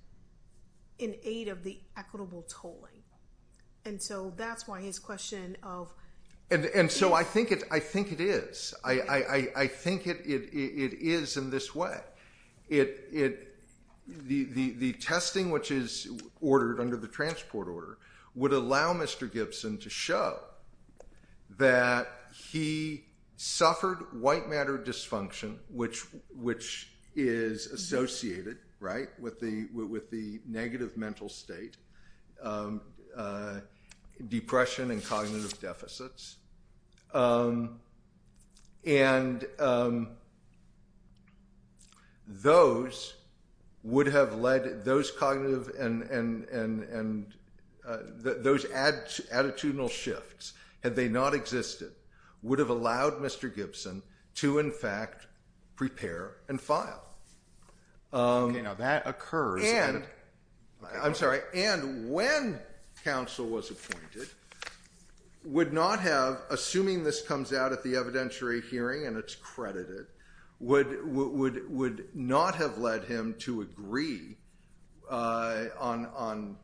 in aid of the equitable tolling. And so that's why his question of – And so I think it is. I think it is in this way. The testing which is ordered under the transport order would allow Mr. Gibson to show that he suffered white matter dysfunction, which is associated, right, with the negative mental state, depression and cognitive deficits. And those would have led – those cognitive and – those attitudinal shifts, had they not existed, would have allowed Mr. Gibson to in fact prepare and file. Now that occurred. I'm sorry. And when counsel was appointed, would not have – assuming this comes out at the evidentiary hearing and it's credited – would not have led him to agree on,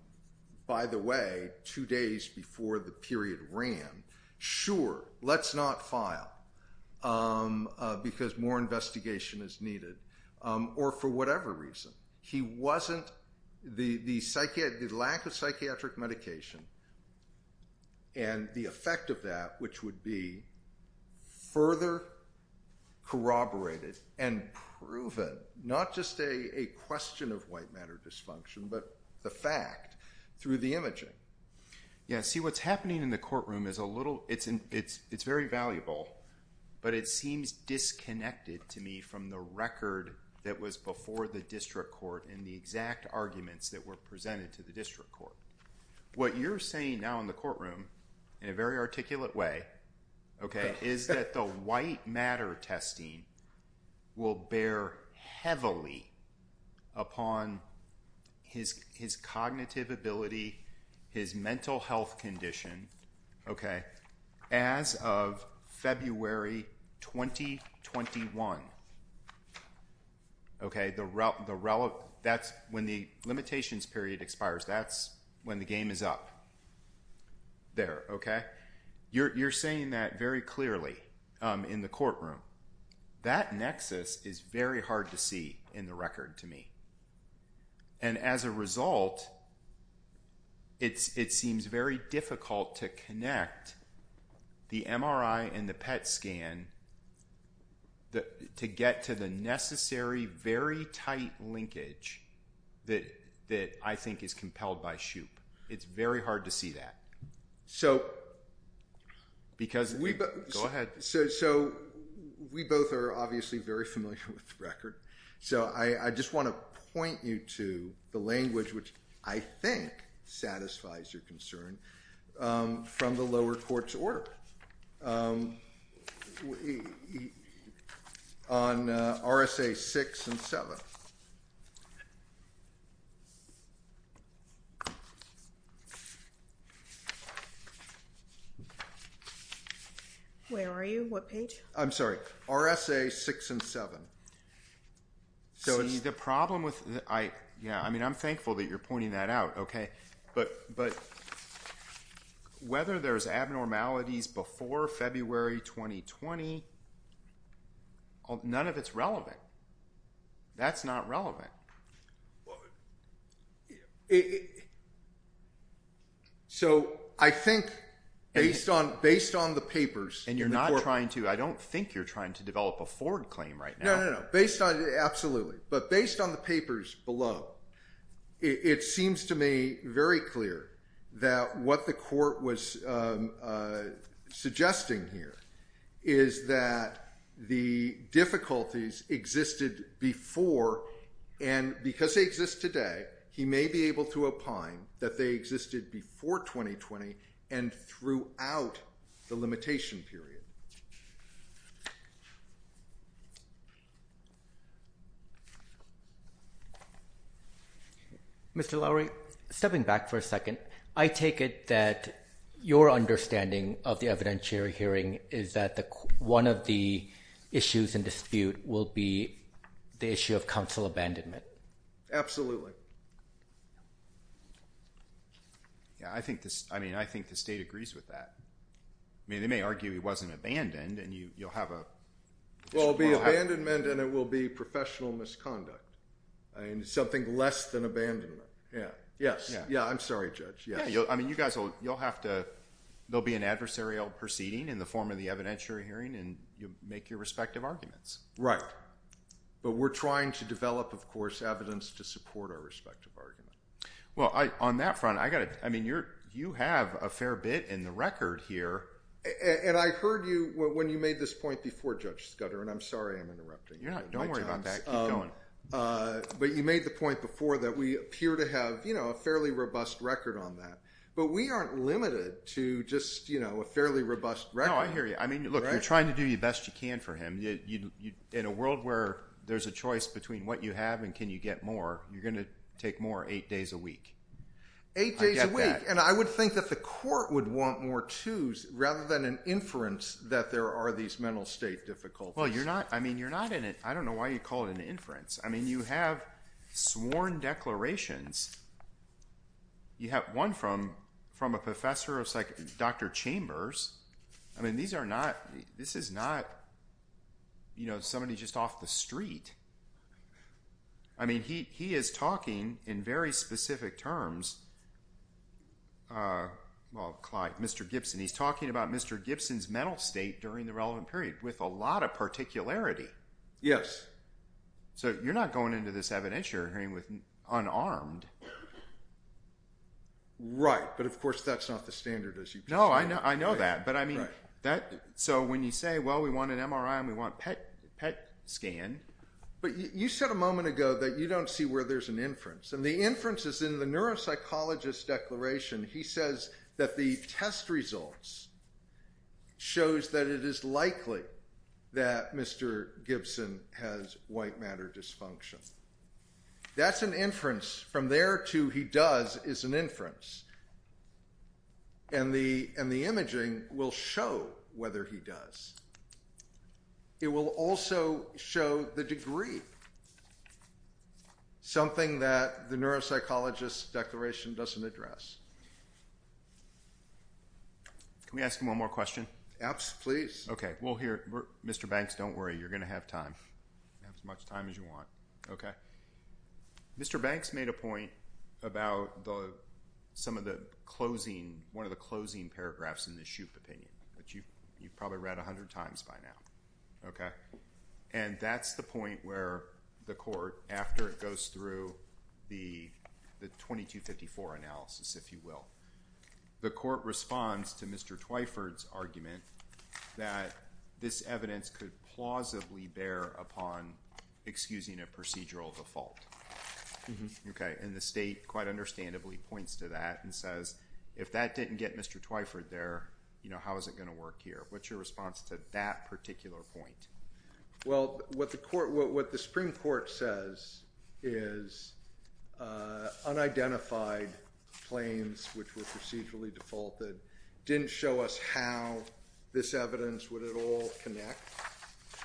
by the way, two days before the period ran, sure, let's not file because more investigation is needed, or for whatever reason. He wasn't – the lack of psychiatric medication and the effect of that, which would be further corroborated and proven, not just a question of white matter dysfunction, but the fact through the imaging. Yeah, see what's happening in the courtroom is a little – it's very valuable, but it seems disconnected to me from the record that was before the district court and the exact arguments that were presented to the district court. What you're saying now in the courtroom, in a very articulate way, okay, is that the white matter testing will bear heavily upon his cognitive ability, his mental health condition, okay, as of February 2021. Okay, the – that's when the limitations period expires. That's when the game is up there, okay. You're saying that very clearly in the courtroom. That nexus is very hard to see in the record to me, and as a result, it seems very difficult to connect the MRI and the PET scan to get to the necessary, very tight linkage that I think is compelled by SHUPE. It's very hard to see that. So, because we – Go ahead. So, we both are obviously very familiar with the record, so I just want to point you to the language which I think satisfies your concern from the lower court's orb on RSA 6 and 7. Where are you? What page? I'm sorry. RSA 6 and 7. So, the problem with – yeah, I mean, I'm thankful that you're pointing that out, okay, but whether there's abnormalities before February 2020, none of it's relevant. That's not relevant. So, I think based on the papers – And you're not trying to – I don't think you're trying to develop a forward claim right now. No, no, no. Based on – absolutely. But based on the papers below, it seems to me very clear that what the court was suggesting here is that the difficulties existed before, and because they exist today, he may be able to opine that they existed before 2020 and throughout the limitation period. Mr. Lowery? Stepping back for a second, I take it that your understanding of the evidentiary hearing is that one of the issues in dispute will be the issue of counsel abandonment. Absolutely. Yeah, I think this – I mean, I think the state agrees with that. I mean, they may argue it wasn't abandoned, and you'll have a – Well, it'll be abandonment, and it will be professional misconduct. I mean, something less than abandonment. Yeah, I'm sorry, Judge. Yeah, I mean, you guys will – you'll have to – there'll be an adversarial proceeding in the form of the evidentiary hearing, and you'll make your respective arguments. Right. But we're trying to develop, of course, evidence to support our respective arguments. Well, on that front, I got to – I mean, you have a fair bit in the record here. And I heard you when you made this point before, Judge Scudder, and I'm sorry I'm interrupting you. Yeah, don't worry about that. Keep going. But you made the point before that we appear to have a fairly robust record on that, but we aren't limited to just a fairly robust record. No, I hear you. I mean, look, you're trying to do the best you can for him. In a world where there's a choice between what you have and can you get more, you're going to take more eight days a week. I get that. And I would think that the court would want more twos rather than an inference that there are these mental state difficulties. Well, you're not – I mean, you're not in it. I don't know why you'd call it an inference. I mean, you have sworn declarations. You have one from a professor. It's like Dr. Chambers. I mean, these are not – this is not somebody just off the street. I mean, he is talking in very specific terms – well, Mr. Gibson. He's talking about Mr. Gibson's mental state during the relevant period with a lot of particularity. Yes. So you're not going into this evidence you're hearing with unarmed. Right, but of course that's not the standard issue. No, I know that. So when you say, well, we want an MRI and we want PET scan. But you said a moment ago that you don't see where there's an inference. And the inference is in the neuropsychologist's declaration. He says that the test results shows that it is likely that Mr. Gibson has white matter dysfunction. That's an inference. From there to he does is an inference. And the imaging will show whether he does. It will also show the degree, something that the neuropsychologist's declaration doesn't address. Can we ask one more question? Yes, please. Okay, we'll hear it. Mr. Banks, don't worry. You're going to have time, as much time as you want. Okay. Mr. Banks made a point about some of the closing, one of the closing paragraphs in the Shoup opinion. But you've probably read 100 times by now. Okay. And that's the point where the court, after it goes through the 2254 analysis, if you will, the court responds to Mr. Twyford's argument that this evidence could plausibly bear upon excusing a procedural default. Okay. And the state quite understandably points to that and says, if that didn't get Mr. Twyford there, how is it going to work here? What's your response to that particular point? Well, what the Supreme Court says is unidentified claims, which were procedurally defaulted, didn't show us how this evidence would at all connect,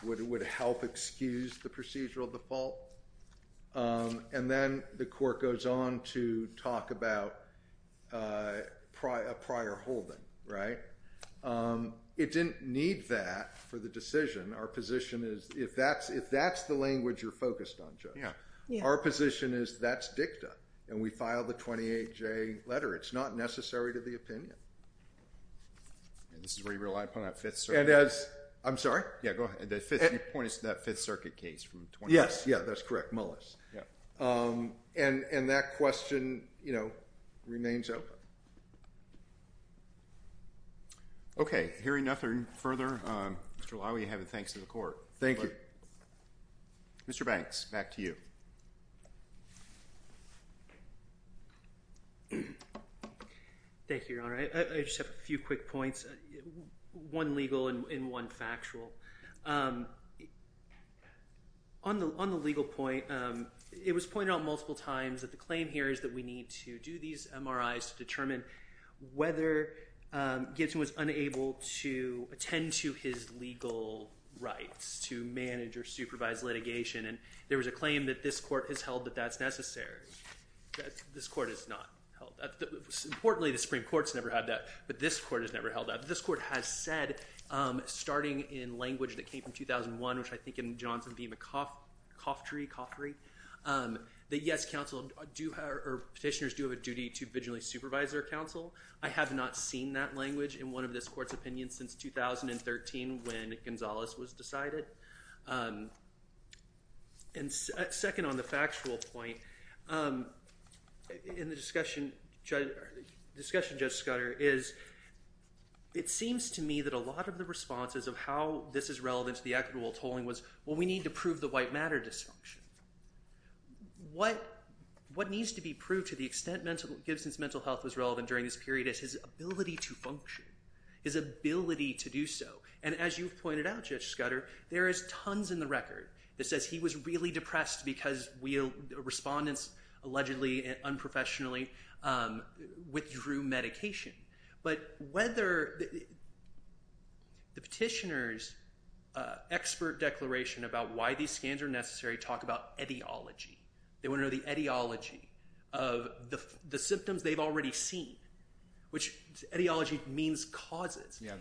would help excuse the procedural default. And then the court goes on to talk about a prior holding, right? It didn't need that for the decision. Our position is, if that's the language you're focused on, Joe, our position is that's dicta. And we filed the 28J letter. It's not necessary to the opinion. And this is where you rely upon that Fifth Circuit case. I'm sorry? Yeah, go ahead. It points to that Fifth Circuit case from 28J. Yeah, that's correct. And that question remains open. Okay. Hearing nothing further, Mr. Laue, you have the thanks to the court. Thank you. Mr. Banks, back to you. Thank you, Your Honor. I just have a few quick points, one legal and one factual. On the legal point, it was pointed out multiple times that the claim here is that we need to do these MRIs to determine whether Gibson was unable to attend to his legal rights to manage or supervise litigation. And there was a claim that this court has held that that's necessary. This court has not held that. Importantly, the Supreme Court's never had that, but this court has never held that. But this court has said, starting in language that came from 2001, which I think in Johnson v. McCoffrey, that yes, petitioners do have a duty to vigilantly supervise their counsel. I have not seen that language in one of this court's opinions since 2013 when Gonzales was decided. And second, on the factual point, in the discussion, Judge Schuyler, is it seems to me that a lot of the responses of how this is relevant to the equitable tolling was, well, we need to prove the white matter dysfunction. What needs to be proved to the extent that Gibson's mental health was relevant during this period is his ability to function, his ability to do so. And as you've pointed out, Judge Scudder, there is tons in the record that says he was really depressed because respondents allegedly unprofessionally withdrew medication. But whether the petitioner's expert declaration about why these scans are necessary talk about etiology. They want to know the etiology of the symptoms they've already seen, which etiology means causes. Yeah,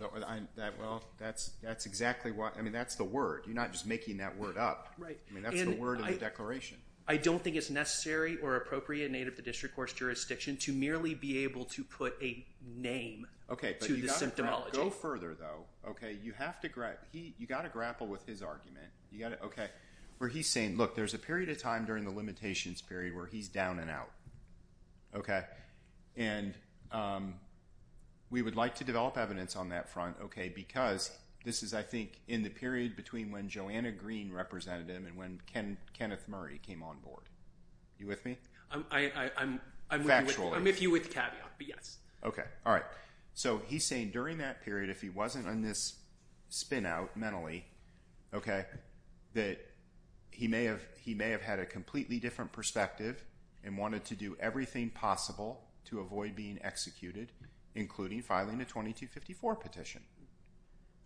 well, that's exactly what – I mean, that's the word. You're not just making that word up. I mean, that's the word in the declaration. I don't think it's necessary or appropriate in aid of the district court's jurisdiction to merely be able to put a name to the symptomology. Okay, but you've got to go further, though, okay? You've got to grapple with his argument, okay, where he's saying, look, there's a period of time during the limitations period where he's down and out, okay? And we would like to develop evidence on that front, okay, because this is, I think, in the period between when Joanna Green represented him and when Kenneth Murray came on board. You with me? I'm with you with the caveat, but yes. Okay, all right. So he's saying during that period, if he wasn't on this spin-out mentally, okay, that he may have had a completely different perspective and wanted to do everything possible to avoid being executed, including filing a 2254 petition,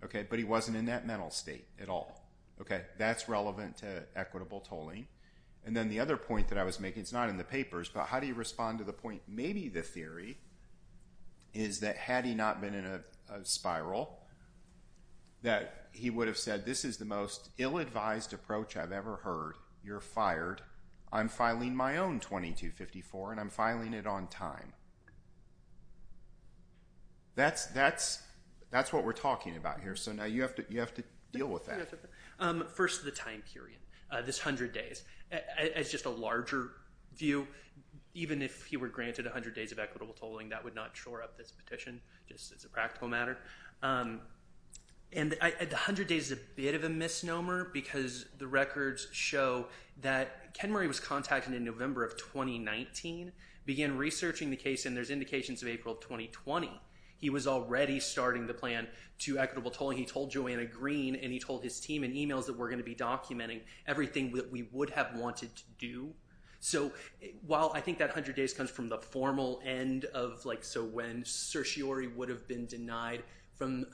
okay? But he wasn't in that mental state at all, okay? That's relevant to equitable tolling. And then the other point that I was making, it's not in the papers, but how do you respond to the point, maybe the theory is that had he not been in a spiral, that he would have said, this is the most ill-advised approach I've ever heard. You're fired. I'm filing my own 2254, and I'm filing it on time. That's what we're talking about here. So now you have to deal with that. First is the time period, this 100 days. It's just a larger view. Even if he were granted 100 days of equitable tolling, that would not shore up this petition. It's a practical matter. And the 100 days is a bit of a misnomer because the records show that Ken Murray was contacted in November of 2019, began researching the case, and there's indications of April of 2020. He was already starting the plan to equitable tolling. He told Joanna Green, and he told his team in e-mails that we're going to be documenting everything that we would have wanted to do. So while I think that 100 days comes from the formal end of, like, so when certiorari would have been denied from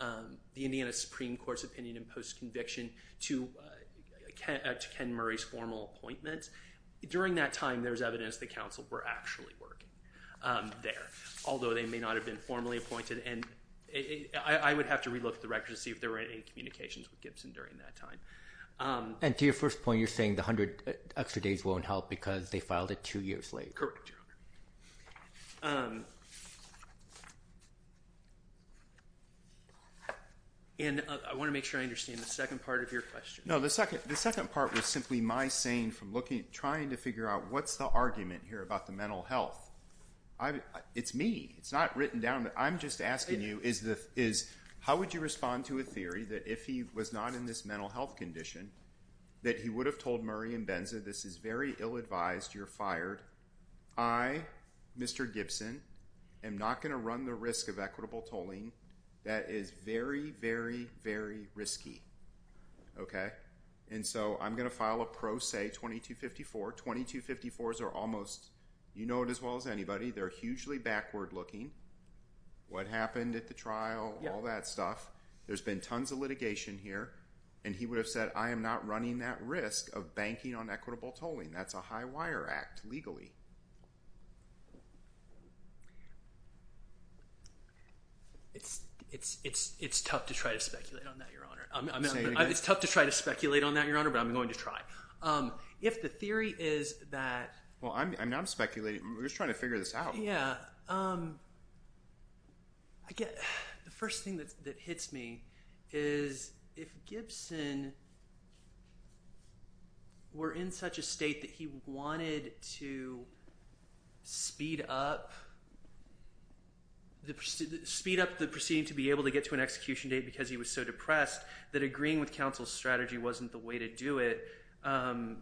the Indiana Supreme Court's opinion post-conviction to Ken Murray's formal appointment, during that time there's evidence that counsel were actually working there, although they may not have been formally appointed. And I would have to relook at the records to see if there were any communications with Gibson during that time. And to your first point, you're saying the 100 extra days won't help because they filed it two years later. Correct. And I want to make sure I understand the second part of your question. No, the second part was simply my saying from trying to figure out what's the argument here about the mental health. It's me. It's not written down. I'm just asking you is how would you respond to a theory that if he was not in this mental health condition that he would have told Murray and Benza this is very ill-advised, you're fired, I, Mr. Gibson, am not going to run the risk of equitable tolling. That is very, very, very risky. Okay? And so I'm going to file a pro se 2254. 2254s are almost, you know it as well as anybody, they're hugely backward-looking. What happened at the trial, all that stuff. There's been tons of litigation here, and he would have said I am not running that risk of banking on equitable tolling. That's a high wire act legally. It's tough to try to speculate on that, Your Honor. It's tough to try to speculate on that, Your Honor, but I'm going to try. If the theory is that – Well, I'm not speculating. We're just trying to figure this out. Yeah. I guess the first thing that hits me is if Gibson were in such a state that he wanted to speed up the proceeding to be able to get to an execution date because he was so depressed that agreeing with counsel's strategy wasn't the way to do it. No,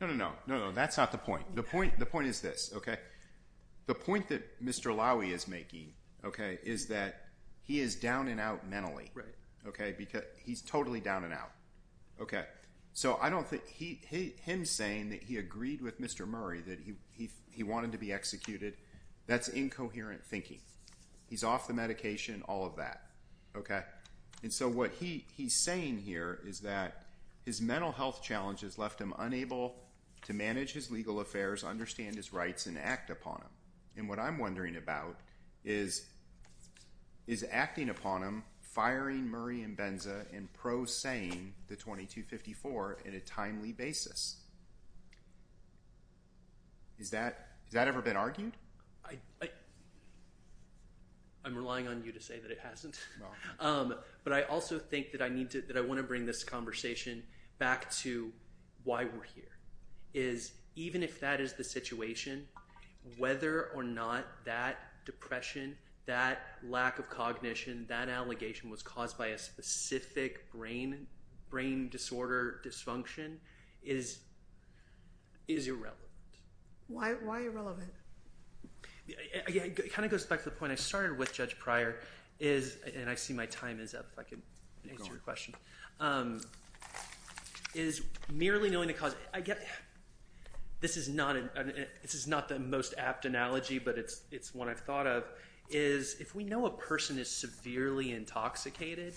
no, no. That's not the point. The point is this. The point that Mr. Lowy is making is that he is down and out mentally. Right. Okay? Because he's totally down and out. So I don't think – him saying that he agreed with Mr. Murray that he wanted to be executed, that's incoherent thinking. He's off the medication, all of that. Okay? And so what he's saying here is that his mental health challenges left him unable to understand his rights and act upon them. And what I'm wondering about is, is acting upon him firing Murray and Benza and prosaying the 2254 in a timely basis? Has that ever been argued? I'm relying on you to say that it hasn't. But I also think that I want to bring this conversation back to why we're here. Is even if that is the situation, whether or not that depression, that lack of cognition, that allegation was caused by a specific brain disorder, dysfunction, is irrelevant. Why irrelevant? It kind of goes back to the point I started with, Judge Pryor, is – and I see my time is up if I can answer your question – is merely knowing the cause. This is not the most apt analogy, but it's one I've thought of, is if we know a person is severely intoxicated,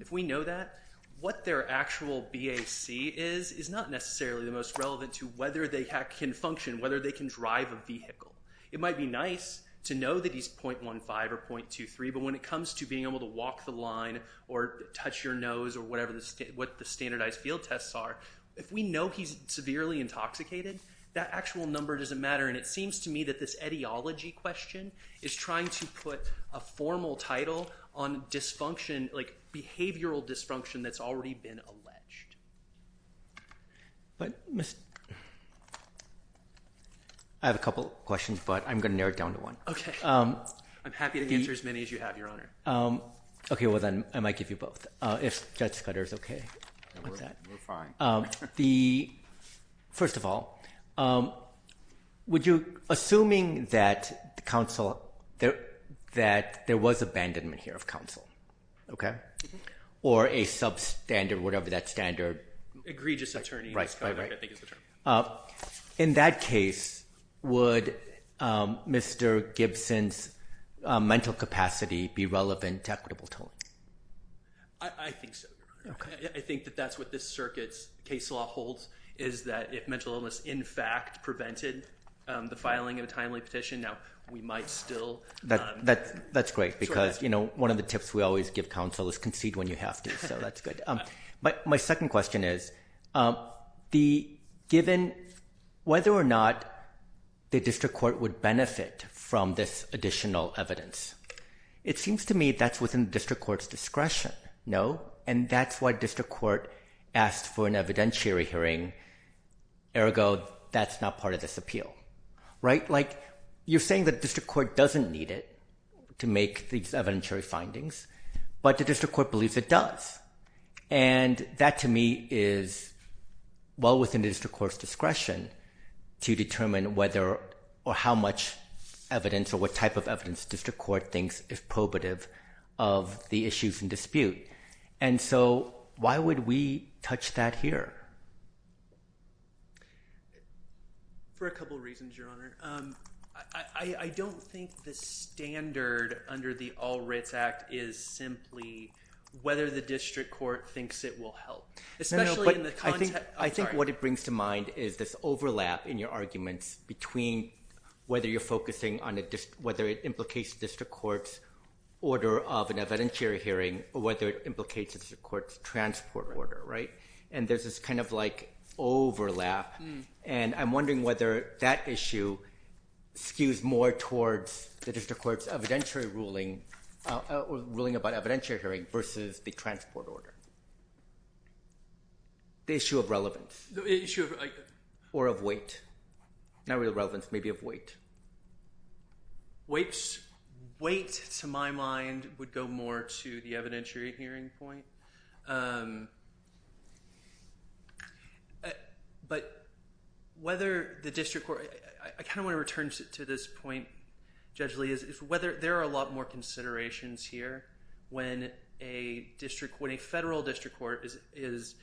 if we know that, what their actual BAC is is not necessarily the most relevant to whether they can function, whether they can drive a vehicle. It might be nice to know that he's .15 or .23, but when it comes to being able to walk the line or touch your nose or whatever the standardized field tests are, if we know he's severely intoxicated, that actual number doesn't matter. And it seems to me that this etiology question is trying to put a formal title on dysfunction, like behavioral dysfunction, that's already been alleged. I have a couple questions, but I'm going to narrow it down to one. I'm happy to answer as many as you have, Your Honor. Okay. Well, then I might give you both, if Judge Fetter is okay with that. We're fine. First of all, would you – assuming that counsel – that there was abandonment here of counsel, or a substandard, whatever that standard… Egregious attorney. Right, right. In that case, would Mr. Gibson's mental capacity be relevant to equitable tone? I think so. Okay. I think that that's what this circuit's case law holds, is that if mental illness in fact prevented the filing of a timely petition, now we might still… That's great, because, you know, one of the tips we always give counsel is concede when you have to, so that's good. But my second question is, given whether or not the district court would benefit from this additional evidence, it seems to me that's within the district court's discretion, no? And that's why district court asks for an evidentiary hearing, ergo that's not part of this appeal, right? Like, you're saying that district court doesn't need it to make these evidentiary findings, but the district court believes it does. And that to me is well within the district court's discretion to determine whether or how much evidence or what type of evidence district court thinks is probative of the issues in dispute. And so why would we touch that here? For a couple of reasons, Your Honor. I don't think the standard under the All Writs Act is simply whether the district court thinks it will help. I think what it brings to mind is this overlap in your arguments between whether you're focusing on whether it implicates district court's order of an evidentiary hearing or whether it implicates the court's transport order, right? And there's this kind of like overlap. And I'm wondering whether that issue skews more towards the district court's evidentiary ruling or ruling about evidentiary hearing versus the transport order. The issue of relevance. The issue of... Or of weight. Not really relevance, maybe of weight. Weight, to my mind, would go more to the evidentiary hearing point. But whether the district court... I kind of want to return to this point, Judge Lee, is whether there are a lot more considerations here when a federal district court is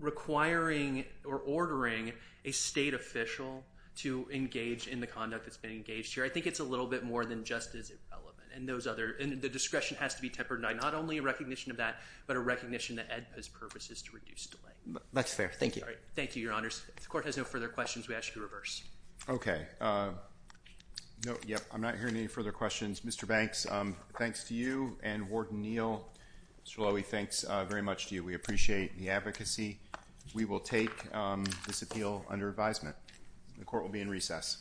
requiring or ordering a state official to engage in the conduct that's been engaged here. I think it's a little bit more than just as relevant. And those other... And the discretion has to be tempered by not only a recognition of that, but a recognition that EDPA's purpose is to reduce delay. That's fair. Thank you. Thank you, Your Honors. If the court has no further questions, we ask you to reverse. Okay. I'm not hearing any further questions. Mr. Banks, thanks to you. And Warden Neal, Mr. Lowy, thanks very much to you. We appreciate the advocacy. We will take this appeal under advisement. The court will be in recess.